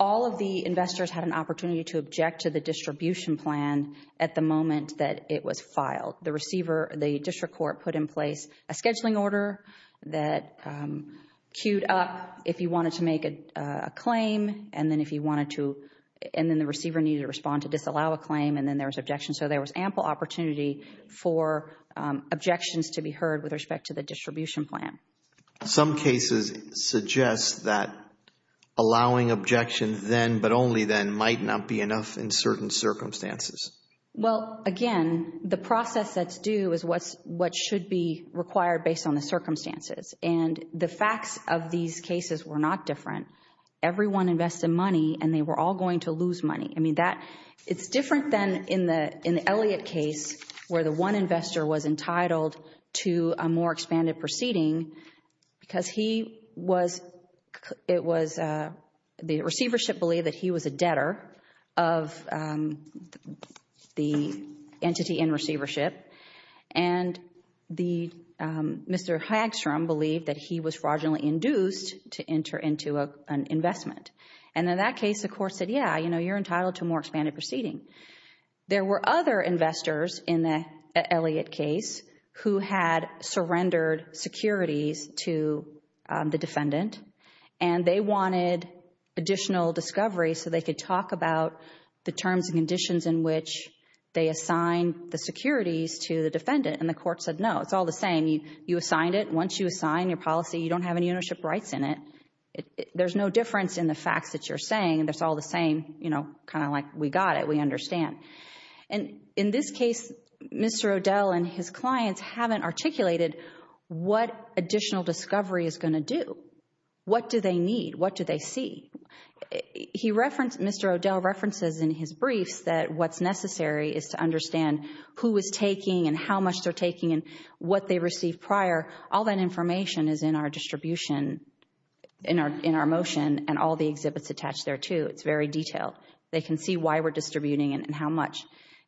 all of the investors had an opportunity to object to the distribution plan at the moment that it was filed. The receiver, the district court put in place a scheduling order that queued up if you wanted to make a claim and then if you wanted to, and then the receiver needed to respond to disallow a claim and then there was objection. So there was ample opportunity for objections to be heard with respect to the distribution plan. Some cases suggest that allowing objections then but only then might not be enough in certain circumstances. Well, again, the process that's due is what should be required based on the circumstances and the facts of these cases were not different. Everyone invested money and they were all going to lose money. I mean, it's different than in the Elliott case where the one investor was entitled to a more expanded proceeding because the receivership believed that he was a debtor of the entity in receivership and Mr. Hagstrom believed that he was fraudulently induced to enter into an investment and in that case, the court said, yeah, you know, you're entitled to more expanded proceeding. There were other investors in the Elliott case who had surrendered securities to the defendant and they wanted additional discovery so they could talk about the terms and conditions in which they assigned the securities to the defendant and the court said, no, it's all the same. You assigned it. Once you assign your policy, you don't have any ownership rights in it. There's no difference in the facts that you're saying and it's all the same, you know, kind of understand and in this case, Mr. O'Dell and his clients haven't articulated what additional discovery is going to do. What do they need? What do they see? He referenced, Mr. O'Dell references in his briefs that what's necessary is to understand who is taking and how much they're taking and what they received prior. All that information is in our distribution, in our motion and all the exhibits attached there too. It's very detailed. They can see why we're distributing and how much.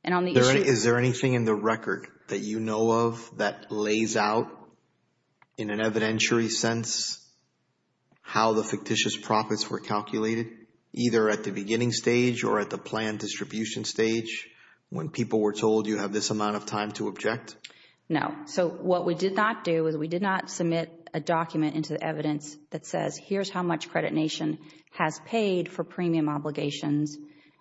Is there anything in the record that you know of that lays out in an evidentiary sense how the fictitious profits were calculated either at the beginning stage or at the planned distribution stage when people were told you have this amount of time to object? No. So what we did not do is we did not submit a document into the evidence that says here's how much Credit Nation has paid for premium obligations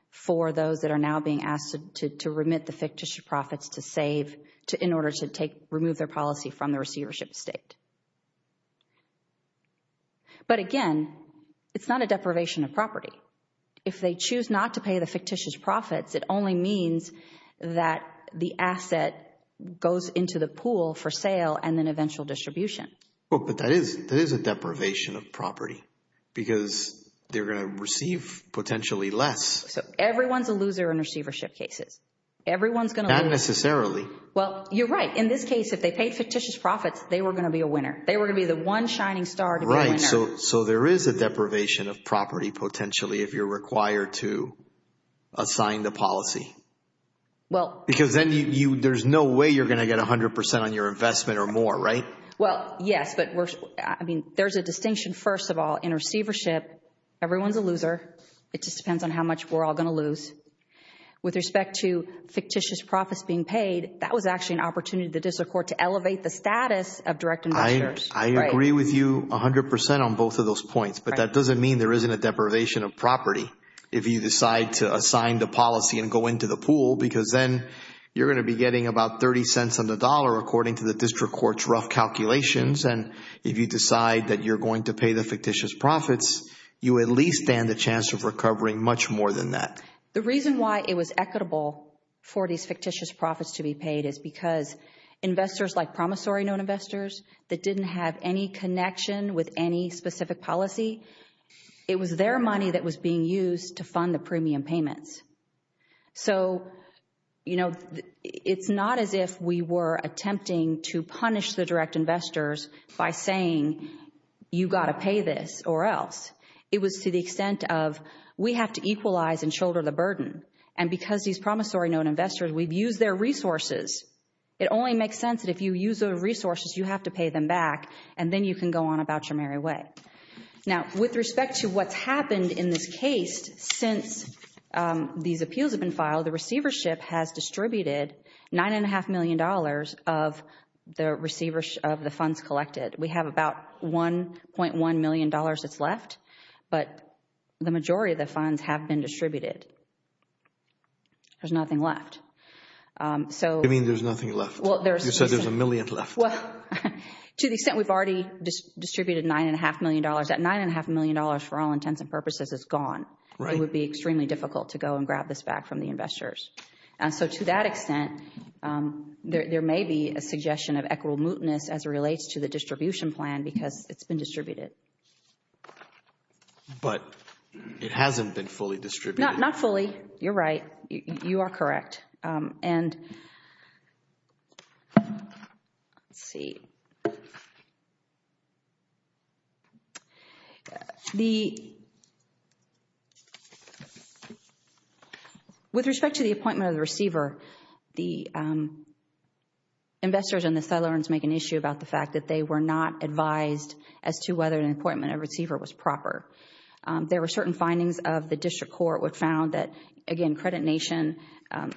for those that are now being asked to remit the fictitious profits to save to in order to take, remove their policy from the receivership state. But again, it's not a deprivation of property. If they choose not to pay the fictitious profits, it only means that the asset goes into the pool for sale and then eventual distribution. Well, but that is a deprivation of property because they're going to receive potentially less. So everyone's a loser in receivership cases. Everyone's going to lose. Not necessarily. Well, you're right. In this case, if they paid fictitious profits, they were going to be a winner. They were going to be the one shining star to go in there. So there is a deprivation of property potentially if you're required to assign the policy. Well... Because then you, there's no way you're going to get 100% on your investment or more, right? Well, yes. But we're, I mean, there's a distinction, first of all, in receivership. Everyone's a loser. It just depends on how much we're all going to lose. With respect to fictitious profits being paid, that was actually an opportunity for the district court to elevate the status of direct investors. I agree with you 100% on both of those points. But that doesn't mean there isn't a deprivation of property if you decide to assign the policy and go into the pool because then you're going to be getting about 30 cents on the dollar according to the district court's rough calculations. And if you decide that you're going to pay the fictitious profits, you at least stand a chance of recovering much more than that. The reason why it was equitable for these fictitious profits to be paid is because investors like promissory note investors that didn't have any connection with any specific policy, it was their money that was being used to fund the premium payments. So, you know, it's not as if we were attempting to punish the direct investors by saying you got to pay this or else. It was to the extent of we have to equalize and shoulder the burden. And because these promissory note investors, we've used their resources, it only makes sense that if you use their resources, you have to pay them back and then you can go on about your merry way. Now, with respect to what's happened in this case, since these appeals have been filed, the receivership has distributed $9.5 million of the receivership of the funds collected. We have about $1.1 million that's left, but the majority of the funds have been distributed. There's nothing left. So... I mean, there's nothing left. Well, there's... You said there's a million left. Well, to the extent we've already distributed $9.5 million, that $9.5 million for all intents and purposes is gone. Right. It would be extremely difficult to go and grab this back from the investors. And so to that extent, there may be a suggestion of equitable mootness as it relates to the distribution plan because it's been distributed. But it hasn't been fully distributed. Not fully. You're right. You are correct. And... Let's see. The... With respect to the appointment of the receiver, the investors and the settlers make an issue about the fact that they were not advised as to whether an appointment of a receiver was proper. There were certain findings of the district court which found that, again, Credit Nation,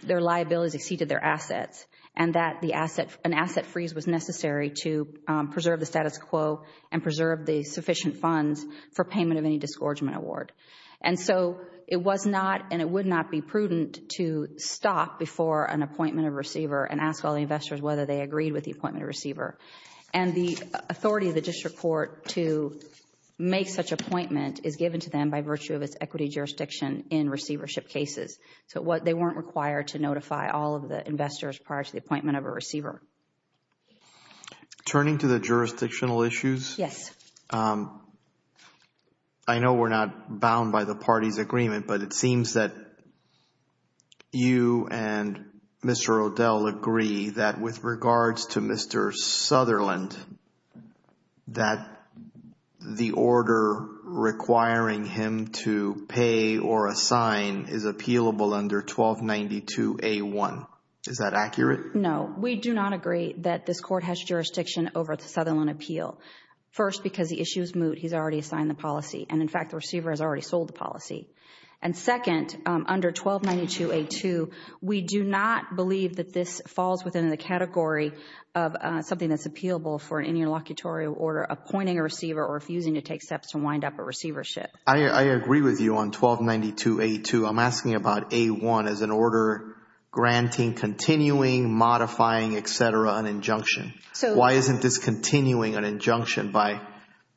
their liabilities exceeded their assets and that an asset freeze was necessary to preserve the status quo and preserve the sufficient funds for payment of any disgorgement award. And so it was not and it would not be prudent to stop before an appointment of a receiver and ask all the investors whether they agreed with the appointment of the receiver. And the authority of the district court to make such an appointment is given to them by virtue of its equity jurisdiction in receivership cases. But what they weren't required to notify all of the investors prior to the appointment of a receiver. Turning to the jurisdictional issues. Yes. I know we're not bound by the party's agreement, but it seems that you and Mr. O'Dell agree that with regards to Mr. Sutherland, that the order requiring him to pay or assign is appealable under 1292A1. Is that accurate? No. We do not agree that this court has jurisdiction over the Sutherland appeal. First because the issue is moot. He's already signed the policy. And, in fact, the receiver has already sold the policy. And second, under 1292A2, we do not believe that this falls within the category of something that's appealable for an interlocutory order appointing a receiver or refusing to take steps to wind up a receivership. I agree with you on 1292A2. I'm asking about A1 as an order granting, continuing, modifying, et cetera, an injunction. Why isn't this continuing an injunction by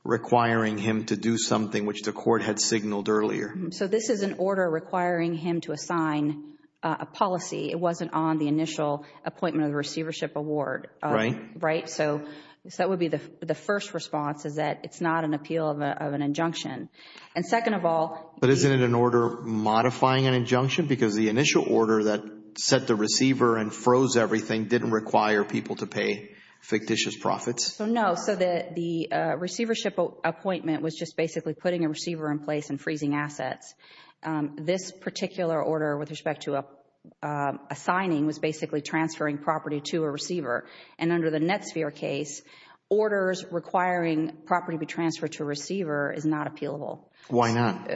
requiring him to do something which the court had signaled earlier? So, this is an order requiring him to assign a policy. It wasn't on the initial appointment of a receivership award. Right. Right? So, that would be the first response is that it's not an appeal of an injunction. And second of all- But isn't it an order modifying an injunction because the initial order that set the receiver and froze everything didn't require people to pay fictitious profits? So, no. So, the receivership appointment was just basically putting a receiver in place and freezing assets. This particular order with respect to assigning was basically transferring property to a receiver. And under the NetSphere case, orders requiring property be transferred to a receiver is not appealable. Why not?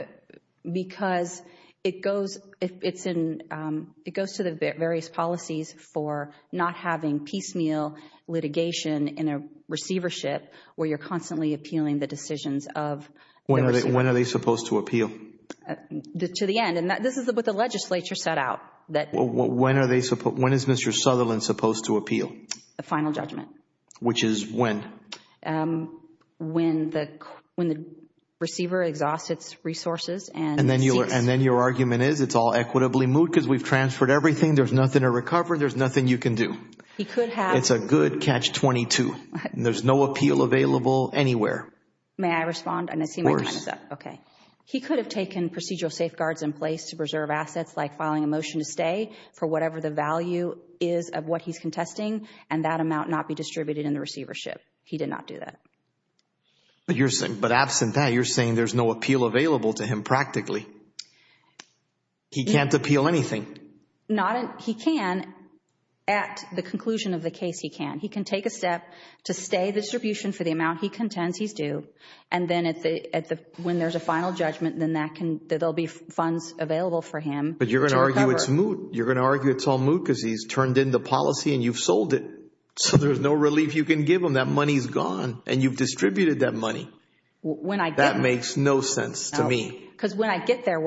Because it goes to the various policies for not having piecemeal litigation in a receivership where you're constantly appealing the decisions of- When are they supposed to appeal? To the end. And this is what the legislature set out. When is Mr. Sutherland supposed to appeal? The final judgment. Which is when? When the receiver exhausts its resources and- And then your argument is it's all equitably moved because we've transferred everything, there's nothing to recover, there's nothing you can do. He could have- It's a good catch-22. There's no appeal available anywhere. May I respond? Of course. Okay. He could have taken procedural safeguards in place to preserve assets like filing a motion to stay for whatever the value is of what he's contesting and that amount not be He did not do that. But absent that, you're saying there's no appeal available to him practically. He can't appeal anything. He can at the conclusion of the case, he can. He can take a step to stay the distribution for the amount he contends he's due. And then when there's a final judgment, then there'll be funds available for him to recover. But you're going to argue it's moot. You're going to argue it's all moot because he's turned into policy and you've sold it. So there's no relief you can give him. That money's gone and you've distributed that money. That makes no sense to me. Because when I get there,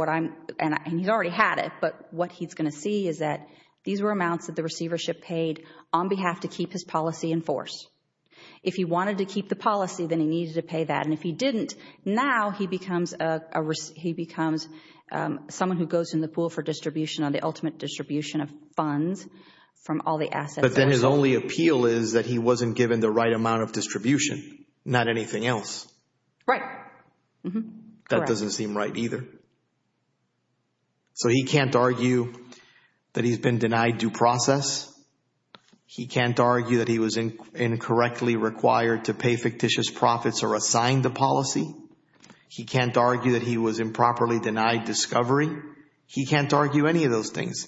and he's already had it, but what he's going to see is that these were amounts that the receivership paid on behalf to keep his policy enforced. If he wanted to keep the policy, then he needed to pay that. And if he didn't, now he becomes someone who goes in the pool for distribution or the ultimate distribution of funds from all the assets. But then his only appeal is that he wasn't given the right amount of distribution, not anything else. Right. That doesn't seem right either. So he can't argue that he's been denied due process. He can't argue that he was incorrectly required to pay fictitious profits or assign the policy. He can't argue that he was improperly denied discovery. He can't argue any of those things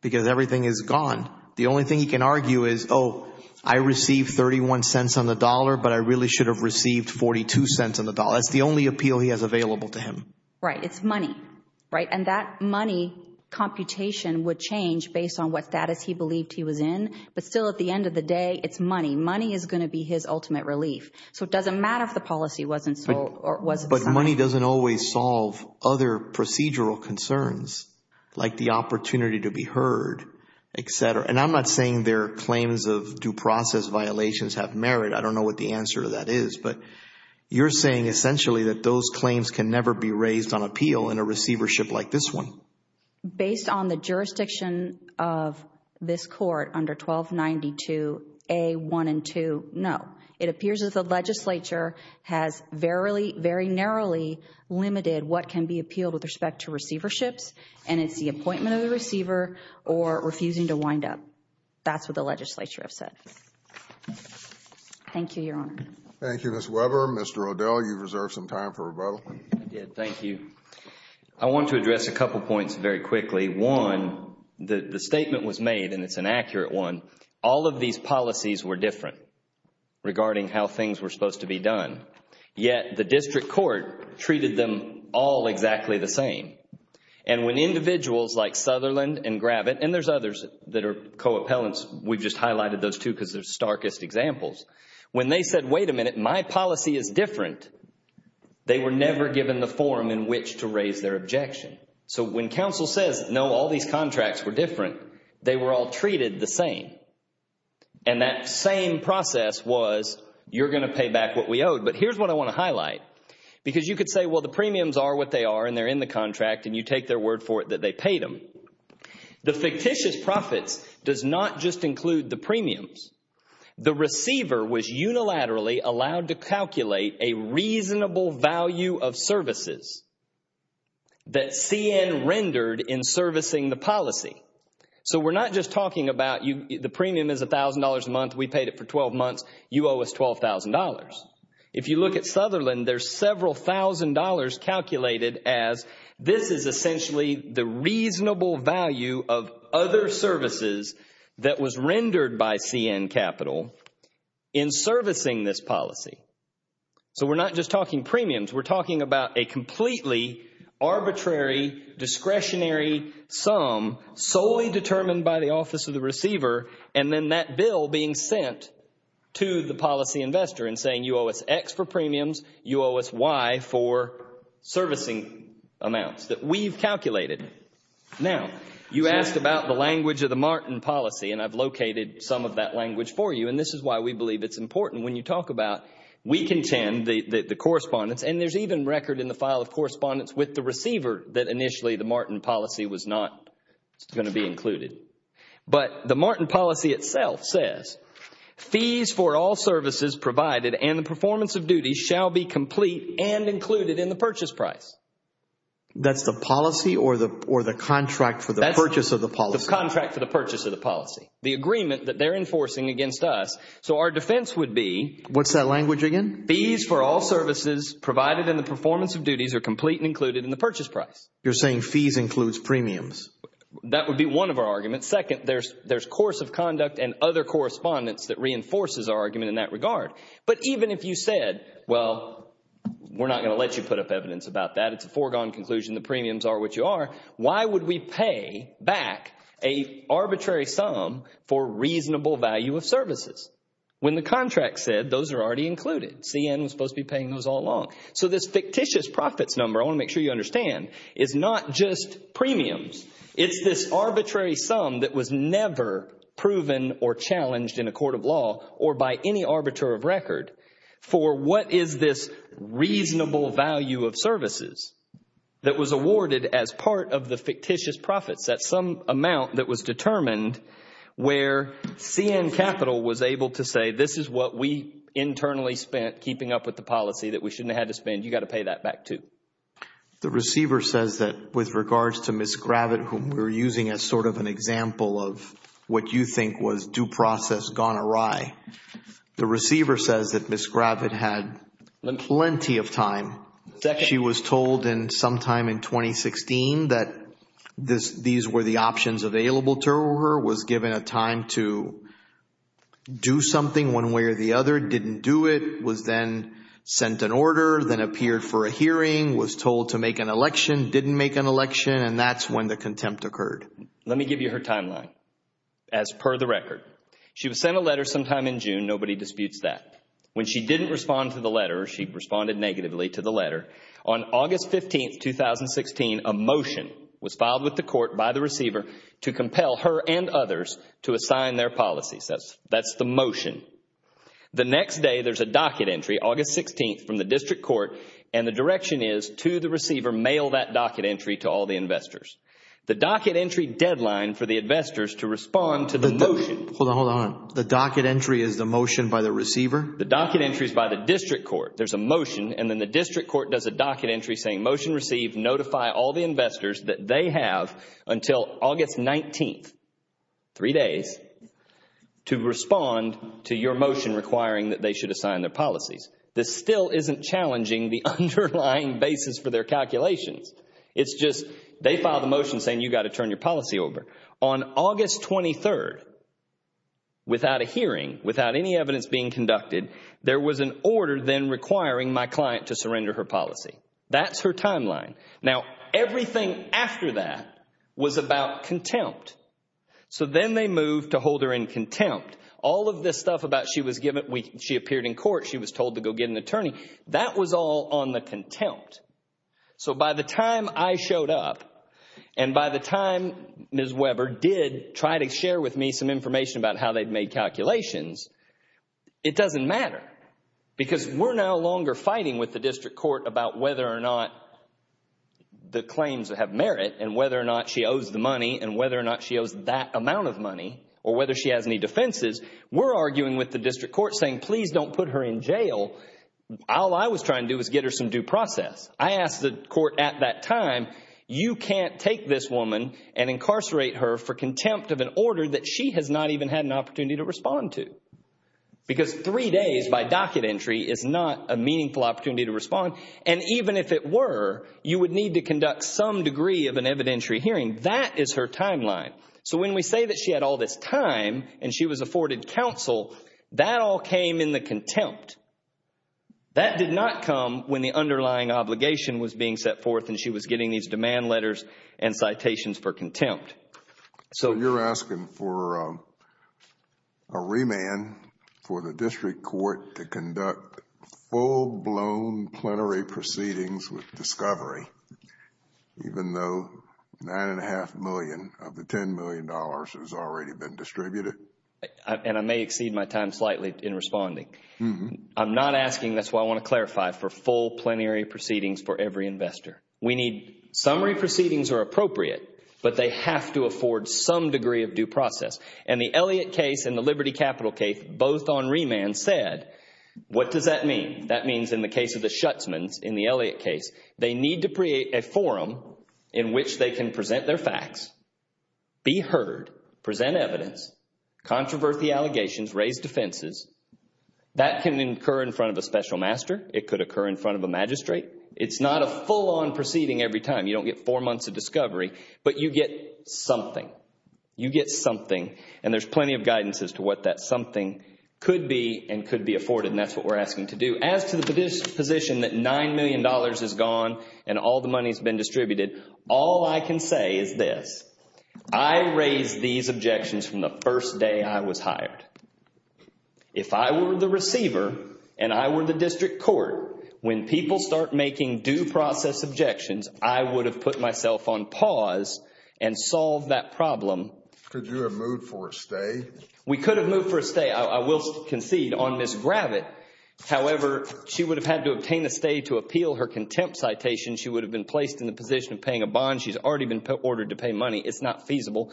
because everything is gone. The only thing he can argue is, oh, I received 31 cents on the dollar, but I really should have received 42 cents on the dollar. That's the only appeal he has available to him. Right. It's money. Right. And that money computation would change based on what status he believed he was in. But still, at the end of the day, it's money. Money is going to be his ultimate relief. So it doesn't matter if the policy wasn't sold or wasn't... But money doesn't always solve other procedural concerns, like the opportunity to be heard, et cetera. And I'm not saying their claims of due process violations have merit. I don't know what the answer to that is, but you're saying essentially that those claims can never be raised on appeal in a receivership like this one. Based on the jurisdiction of this court under 1292A1 and 2, no. It appears that the legislature has very, very narrowly limited what can be appealed with respect to receiverships, and it's the appointment of the receiver or refusing to wind up. That's what the legislature has said. Thank you, Your Honor. Thank you, Ms. Weber. Mr. O'Dell, you've reserved some time for rebuttal. Yes. Thank you. I want to address a couple of points very quickly. One, the statement was made, and it's an accurate one. All of these policies were different regarding how things were supposed to be done, yet the district court treated them all exactly the same. And when individuals like Sutherland and Gravitt, and there's others that are co-appellants, we just highlighted those two because they're starkest examples. When they said, wait a minute, my policy is different, they were never given the forum in which to raise their objection. So when counsel said, no, all these contracts were different, they were all treated the same. And that same process was, you're going to pay back what we owed. But here's what I want to highlight, because you could say, well, the premiums are what they are, and they're in the contract, and you take their word for it that they paid them. The fictitious profit does not just include the premiums. The receiver was unilaterally allowed to calculate a reasonable value of services that CN rendered in servicing the policy. So we're not just talking about the premium is $1,000 a month, we paid it for 12 months, you owe us $12,000. If you look at Sutherland, there's several thousand dollars calculated as this is essentially the reasonable value of other services that was rendered by CN Capital in servicing this policy. So we're not just talking premiums. We're talking about a completely arbitrary discretionary sum solely determined by the office of the receiver, and then that bill being sent to the policy investor and saying you owe us X for premiums, you owe us Y for servicing amounts that we've calculated. Now, you asked about the language of the Martin policy, and I've located some of that language for you. And this is why we believe it's important when you talk about, we contend, the correspondence, and there's even record in the file of correspondence with the receiver that initially the Martin policy was not going to be included. But the Martin policy itself says, fees for all services provided and the performance of duties shall be complete and included in the purchase price. That's the policy or the contract for the purchase of the policy? The contract for the purchase of the policy. The agreement that they're enforcing against us. So our defense would be... What's that language again? Fees for all services provided and the performance of duties are complete and included in the purchase price. You're saying fees includes premiums. That would be one of our arguments. Second, there's course of conduct and other correspondence that reinforces our argument in that regard. But even if you said, well, we're not going to let you put up evidence about that. It's a foregone conclusion. The premiums are what you are. Why would we pay back an arbitrary sum for reasonable value of services when the contract said those are already included? CN is supposed to be paying those all along. So this fictitious profit number, I want to make sure you understand, is not just premiums. It's this arbitrary sum that was never proven or challenged in a court of law or by any arbiter of record for what is this reasonable value of services that was awarded as part of the fictitious profits. That's some amount that was determined where CN Capital was able to say this is what we internally spent keeping up with the policy that we shouldn't have to spend. You got to pay that back too. The receiver says that with regards to Ms. Gravitt, whom we're using as sort of an example of what you think was due process gone awry, the receiver says that Ms. Gravitt had plenty of time. She was told sometime in 2016 that these were the options available to her, was given a time to do something one way or the other, didn't do it, was then sent an order, then appeared for a hearing, was told to make an election, didn't make an election, and that's when the contempt occurred. Let me give you her timeline as per the record. She was sent a letter sometime in June. Nobody disputes that. When she didn't respond to the letter, she responded negatively to the letter. On August 15th, 2016, a motion was filed with the court by the receiver to compel her and others to assign their policies. That's the motion. The next day, there's a docket entry, August 16th, from the district court, and the direction is to the receiver, mail that docket entry to all the investors. The docket entry deadline for the investors to respond to the motion- The docket entry is by the district court. There's a motion, and then the district court does a docket entry saying, motion received. Notify all the investors that they have until August 19th, three days, to respond to your motion requiring that they should assign their policies. This still isn't challenging the underlying basis for their calculation. It's just they filed a motion saying, you got to turn your policy over. On August 23rd, without a hearing, without any evidence being conducted, there was an order then requiring my client to surrender her policy. That's her timeline. Now, everything after that was about contempt. Then they moved to hold her in contempt. All of this stuff about she appeared in court, she was told to go get an attorney, that was all on the contempt. By the time I showed up, and by the time Ms. Weber did try to share with me some information about how they'd made calculations, it doesn't matter because we're no longer fighting with the district court about whether or not the claims have merit, and whether or not she owes the money, and whether or not she owes that amount of money, or whether she has any defenses. We're arguing with the district court saying, please don't put her in jail. All I was trying to do was get her some due process. I asked the court at that time, you can't take this woman and incarcerate her for contempt of an order that she has not even had an opportunity to respond to. Because three days by docket entry is not a meaningful opportunity to respond. Even if it were, you would need to conduct some degree of an evidentiary hearing. That is her timeline. When we say that she had all this time, and she was afforded counsel, that all came in a contempt. That did not come when the underlying obligation was being set forth, and she was getting these demand letters and citations for contempt. You're asking for a remand for the district court to conduct full-blown plenary proceedings with discovery, even though nine and a half million of the $10 million has already been distributed? I may exceed my time slightly in responding. I'm not asking, that's why I want to clarify, for full plenary proceedings for every investor. We need, summary proceedings are appropriate, but they have to afford some degree of due process. The Elliott case and the Liberty Capital case, both on remand, said, what does that mean? That means in the case of the Schutzman, in the Elliott case, they need to create a forum in which they can present their facts, be heard, present evidence, controversy allegations, raise defenses. That can occur in front of a special master. It could occur in front of a magistrate. It's not a full-on proceeding every time. You don't get four months of discovery, but you get something. You get something, and there's plenty of guidance as to what that something could be and could be afforded. That's what we're asking to do. If you ask the position that $9 million is gone and all the money has been distributed, all I can say is this, I raised these objections from the first day I was hired. If I were the receiver, and I were the district court, when people start making due process objections, I would have put myself on pause and solved that problem. Could you have moved for a stay? We could have moved for a stay. I will concede on this gravity, however, she would have had to obtain a stay to appeal her contempt citation. She would have been placed in the position of paying a bond. She's already been ordered to pay money. It's not feasible.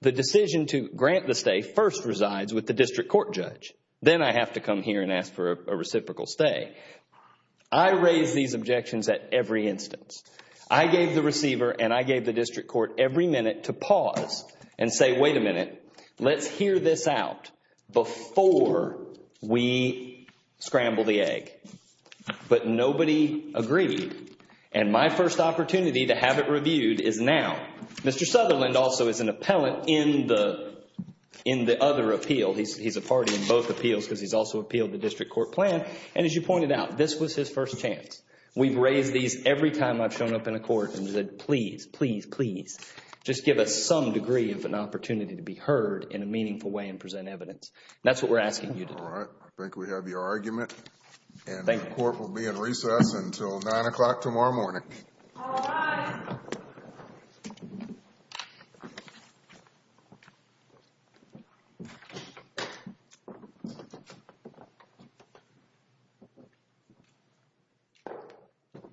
The decision to grant the stay first resides with the district court judge. Then I have to come here and ask for a reciprocal stay. I raised these objections at every instance. I gave the receiver and I gave the district court every minute to pause and say, wait a minute. Wait a minute. Let's hear this out before we scramble the egg. But nobody agreed. My first opportunity to have it reviewed is now. Mr. Sutherland also is an appellant in the other appeal. He's a party in both appeals because he's also appealed the district court plan. As you pointed out, this was his first chance. We've raised these every time I've shown up in a court and said, please, please, please, just give us some degree of an opportunity to be heard in a meaningful way and present evidence. That's what we're asking you to do. All right. I think we have your argument. Thank you. And the court will be in recess until 9 o'clock tomorrow morning. All right.